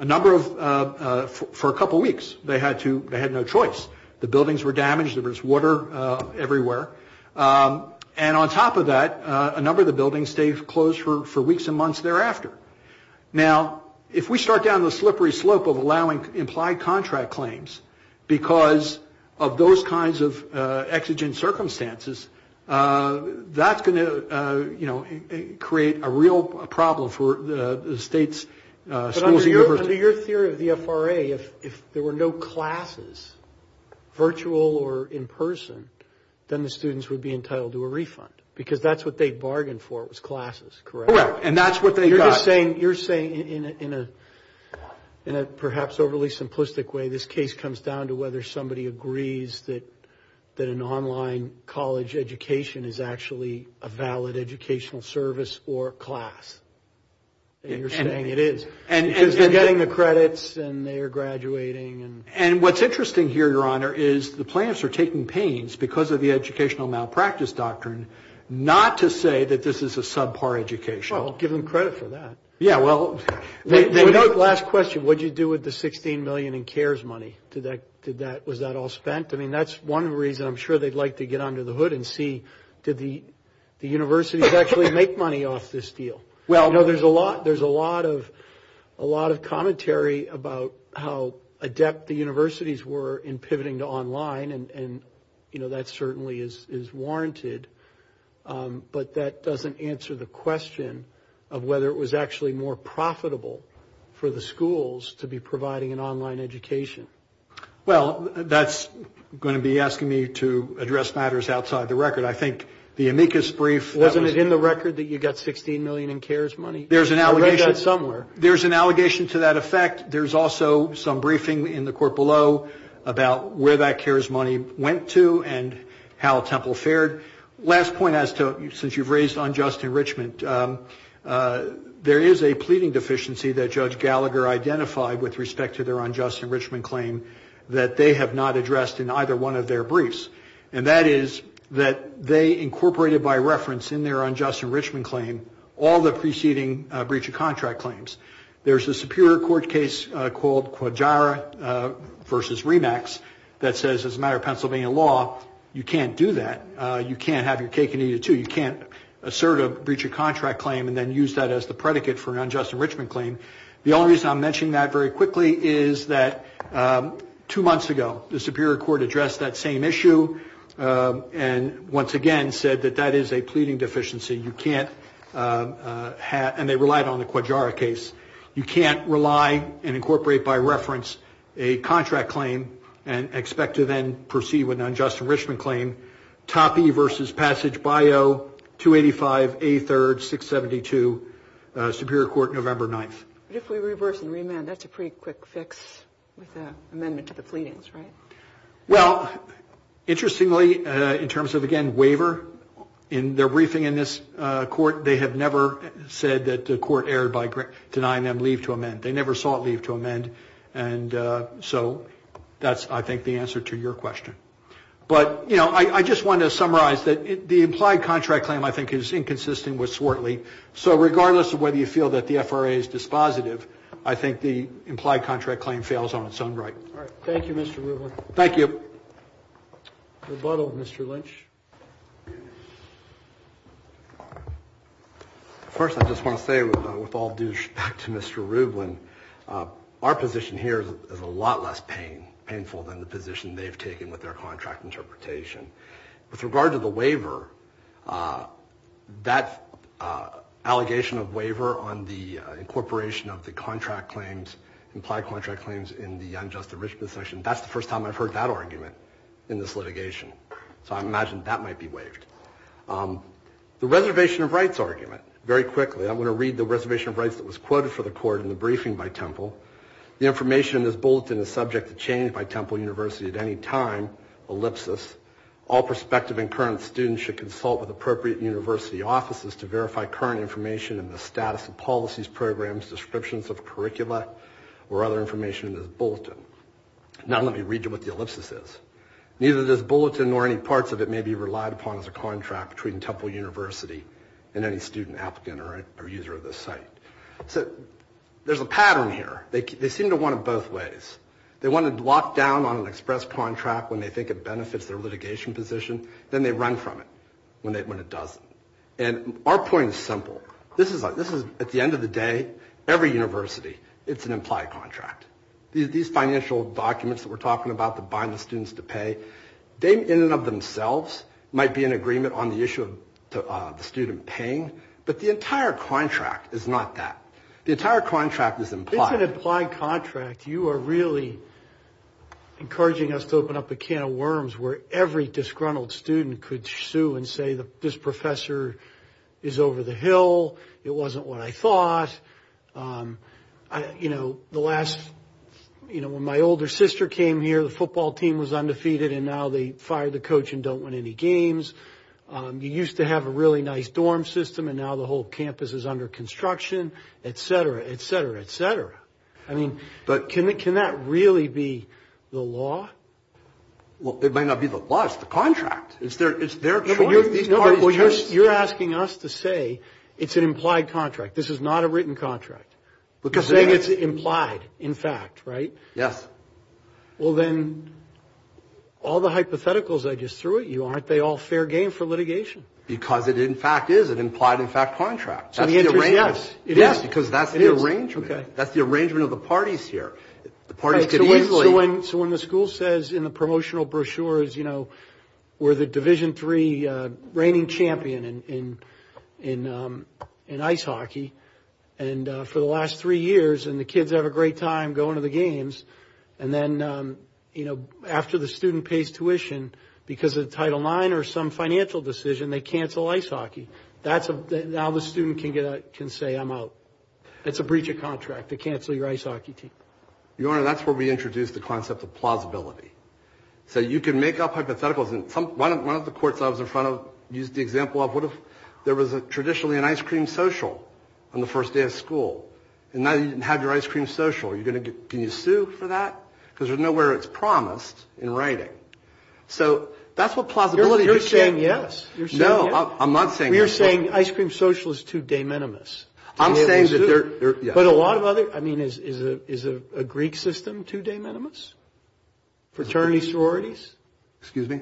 For a couple of weeks, they had no choice. The buildings were damaged. There was water everywhere. And on top of that, a number of the buildings stayed closed for weeks and months thereafter. Now, if we start down the slippery slope of allowing implied contract claims because of those kinds of exigent circumstances, that's going to, you know, create a real problem for the state's schools and universities. But under your theory of the FRA, if there were no classes, virtual or in-person, then the students would be entitled to a refund because that's what they bargained for was classes, correct? Correct, and that's what they got. You're just saying in a perhaps overly simplistic way, this case comes down to whether somebody agrees that an online college education is actually a valid educational service or class. You're saying it is. And they're getting the credits and they are graduating. And what's interesting here, Your Honor, is the plaintiffs are taking pains because of the educational malpractice doctrine not to say that this is a subpar education. Well, give them credit for that. Yeah, well. Last question, what did you do with the $16 million in CARES money? Was that all spent? I mean, that's one reason I'm sure they'd like to get under the hood and see, did the universities actually make money off this deal? Well, no, there's a lot of commentary about how adept the universities were in pivoting to online, and, you know, that certainly is warranted. But that doesn't answer the question of whether it was actually more profitable for the schools to be providing an online education. Well, that's going to be asking me to address matters outside the record. I think the amicus brief. Wasn't it in the record that you got $16 million in CARES money? I read that somewhere. There's an allegation to that effect. There's also some briefing in the court below about where that CARES money went to and how Temple fared. Last point as to since you've raised unjust enrichment, there is a pleading deficiency that Judge Gallagher identified with respect to their unjust enrichment claim that they have not addressed in either one of their briefs, and that is that they incorporated by reference in their unjust enrichment claim all the preceding breach of contract claims. There's a Superior Court case called Quadjara v. Remax that says as a matter of Pennsylvania law, you can't do that. You can't have your cake and eat it, too. You can't assert a breach of contract claim and then use that as the predicate for an unjust enrichment claim. The only reason I'm mentioning that very quickly is that two months ago, the Superior Court addressed that same issue and once again said that that is a pleading deficiency. And they relied on the Quadjara case. You can't rely and incorporate by reference a contract claim and expect to then proceed with an unjust enrichment claim. Toppy v. Passage Bio, 285A3-672, Superior Court, November 9th. But if we reverse and remand, that's a pretty quick fix with an amendment to the pleadings, right? Well, interestingly, in terms of, again, waiver, in their briefing in this court, they have never said that the court erred by denying them leave to amend. They never saw it leave to amend. And so that's, I think, the answer to your question. But, you know, I just want to summarize that the implied contract claim, I think, is inconsistent with Swartley. So regardless of whether you feel that the FRA is dispositive, I think the implied contract claim fails on its own right. All right. Thank you, Mr. Rublin. Rebuttal, Mr. Lynch. First, I just want to say, with all due respect to Mr. Rublin, our position here is a lot less painful than the position they've taken with their contract interpretation. With regard to the waiver, that allegation of waiver on the incorporation of the contract claims, implied contract claims in the unjust enrichment section, that's the first time I've heard that argument in this litigation. So I imagine that might be waived. The reservation of rights argument. Very quickly, I'm going to read the reservation of rights that was quoted for the court in the briefing by Temple. The information in this bulletin is subject to change by Temple University at any time, ellipsis. All prospective and current students should consult with appropriate university offices to verify current information in the status of policies, programs, descriptions of curricula, or other information in this bulletin. Now let me read you what the ellipsis is. Neither this bulletin nor any parts of it may be relied upon as a contract between Temple University and any student, applicant, or user of this site. So there's a pattern here. They seem to want it both ways. They want it locked down on an express contract when they think it benefits their litigation position. Then they run from it when it doesn't. And our point is simple. This is, at the end of the day, every university, it's an implied contract. These financial documents that we're talking about that bind the students to pay, they in and of themselves might be in agreement on the issue of the student paying, but the entire contract is not that. The entire contract is implied. It's an implied contract. You are really encouraging us to open up a can of worms where every disgruntled student could sue and say this professor is over the hill, it wasn't what I thought. You know, the last, you know, when my older sister came here, the football team was undefeated, and now they fired the coach and don't win any games. You used to have a really nice dorm system, and now the whole campus is under construction, et cetera, et cetera, et cetera. I mean, can that really be the law? Well, it might not be the law. It's the contract. These parties choose. No, but you're asking us to say it's an implied contract. This is not a written contract. You're saying it's implied, in fact, right? Yes. Well, then, all the hypotheticals I just threw at you, aren't they all fair game for litigation? Because it, in fact, is an implied, in fact, contract. So the answer is yes, it is. Yes, because that's the arrangement. It is. Okay. That's the arrangement of the parties here. So when the school says in the promotional brochures, you know, we're the Division III reigning champion in ice hockey, and for the last three years, and the kids have a great time going to the games, and then, you know, after the student pays tuition, because of Title IX or some financial decision, they cancel ice hockey. Now the student can say, I'm out. It's a breach of contract. They cancel your ice hockey team. Your Honor, that's where we introduce the concept of plausibility. So you can make up hypotheticals. One of the courts I was in front of used the example of, what if there was traditionally an ice cream social on the first day of school, and now you didn't have your ice cream social. Can you sue for that? Because there's nowhere it's promised in writing. So that's what plausibility is. You're saying yes. No, I'm not saying yes. So you're saying ice cream social is too de minimis. I'm saying that they're, yeah. But a lot of other, I mean, is a Greek system too de minimis? Fraternity sororities? Excuse me?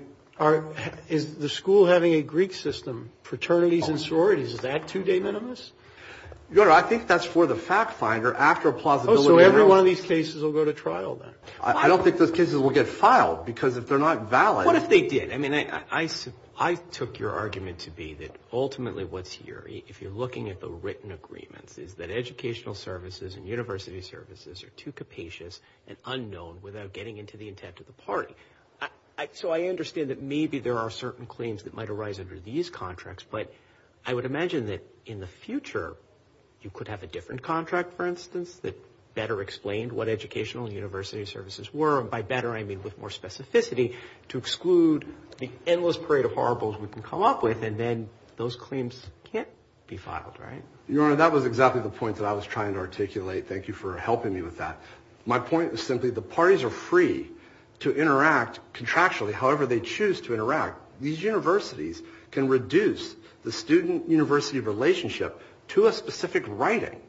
Is the school having a Greek system, fraternities and sororities, is that too de minimis? Your Honor, I think that's for the fact finder after a plausibility trial. Oh, so every one of these cases will go to trial then. I don't think those cases will get filed because if they're not valid. What if they did? I mean, I took your argument to be that ultimately what's here, if you're looking at the written agreements, is that educational services and university services are too capacious and unknown without getting into the intent of the party. So I understand that maybe there are certain claims that might arise under these contracts, but I would imagine that in the future you could have a different contract, for instance, that better explained what educational and university services were, and by better I mean with more specificity to exclude the endless parade of horribles we can come up with and then those claims can't be filed, right? Your Honor, that was exactly the point that I was trying to articulate. Thank you for helping me with that. My point is simply the parties are free to interact contractually however they choose to interact. These universities can reduce the student-university relationship to a specific writing.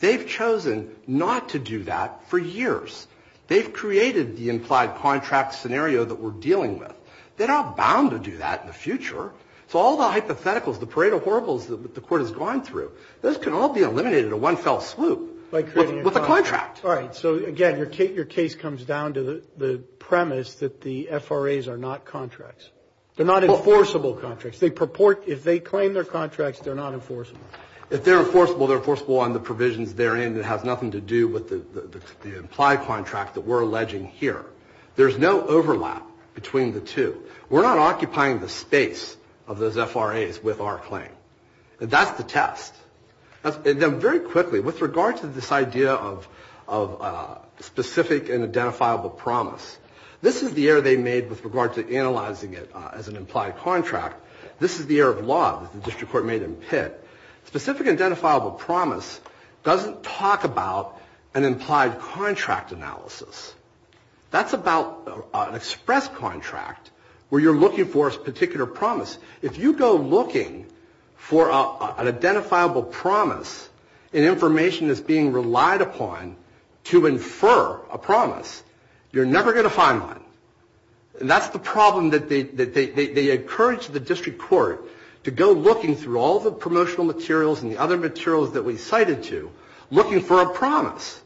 They've chosen not to do that for years. They've created the implied contract scenario that we're dealing with. They're not bound to do that in the future. So all the hypotheticals, the parade of horribles that the Court has gone through, those can all be eliminated in one fell swoop with a contract. All right. So, again, your case comes down to the premise that the FRAs are not contracts. They're not enforceable contracts. If they claim they're contracts, they're not enforceable. If they're enforceable, they're enforceable on the provisions therein. It has nothing to do with the implied contract that we're alleging here. There's no overlap between the two. We're not occupying the space of those FRAs with our claim. That's the test. And then very quickly, with regard to this idea of specific and identifiable promise, this is the error they made with regard to analyzing it as an implied contract. Specific and identifiable promise doesn't talk about an implied contract analysis. That's about an express contract where you're looking for a particular promise. If you go looking for an identifiable promise, an information that's being relied upon to infer a promise, you're never going to find one. And that's the problem that they encourage the District Court to go looking through all the promotional materials and the other materials that we cited to, looking for a promise.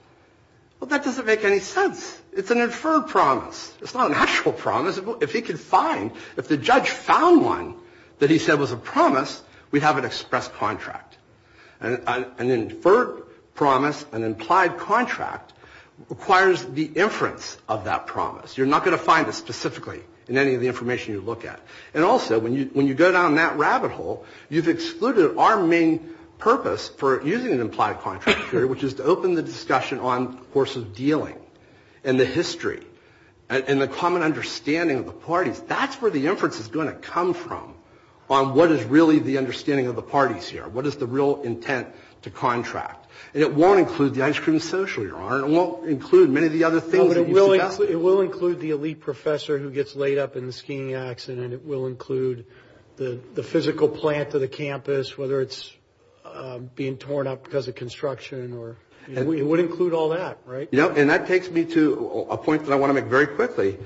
Well, that doesn't make any sense. It's an inferred promise. It's not an actual promise. If he could find, if the judge found one that he said was a promise, we'd have an express contract. An inferred promise, an implied contract, requires the inference of that promise. You're not going to find it specifically in any of the information you look at. And also, when you go down that rabbit hole, you've excluded our main purpose for using an implied contract theory, which is to open the discussion on the course of dealing and the history and the common understanding of the parties. That's where the inference is going to come from on what is really the understanding of the parties here, what is the real intent to contract. And it won't include the ice cream social, Your Honor, and it won't include many of the other things that you suggested. It will include the elite professor who gets laid up in the skiing accident. It will include the physical plant of the campus, whether it's being torn up because of construction. It would include all that, right? Yeah, and that takes me to a point that I want to make very quickly.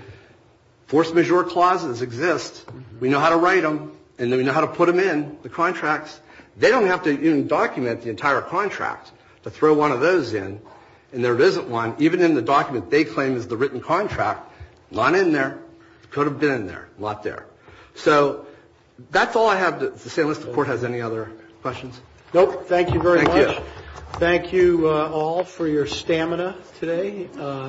Force majeure clauses exist. We know how to write them, and then we know how to put them in the contracts. They don't have to even document the entire contract to throw one of those in, and there isn't one. Even in the document they claim is the written contract, not in there, could have been in there, not there. So that's all I have to say. Unless the Court has any other questions. Thank you very much. Thank you. Thank you all for your stamina today.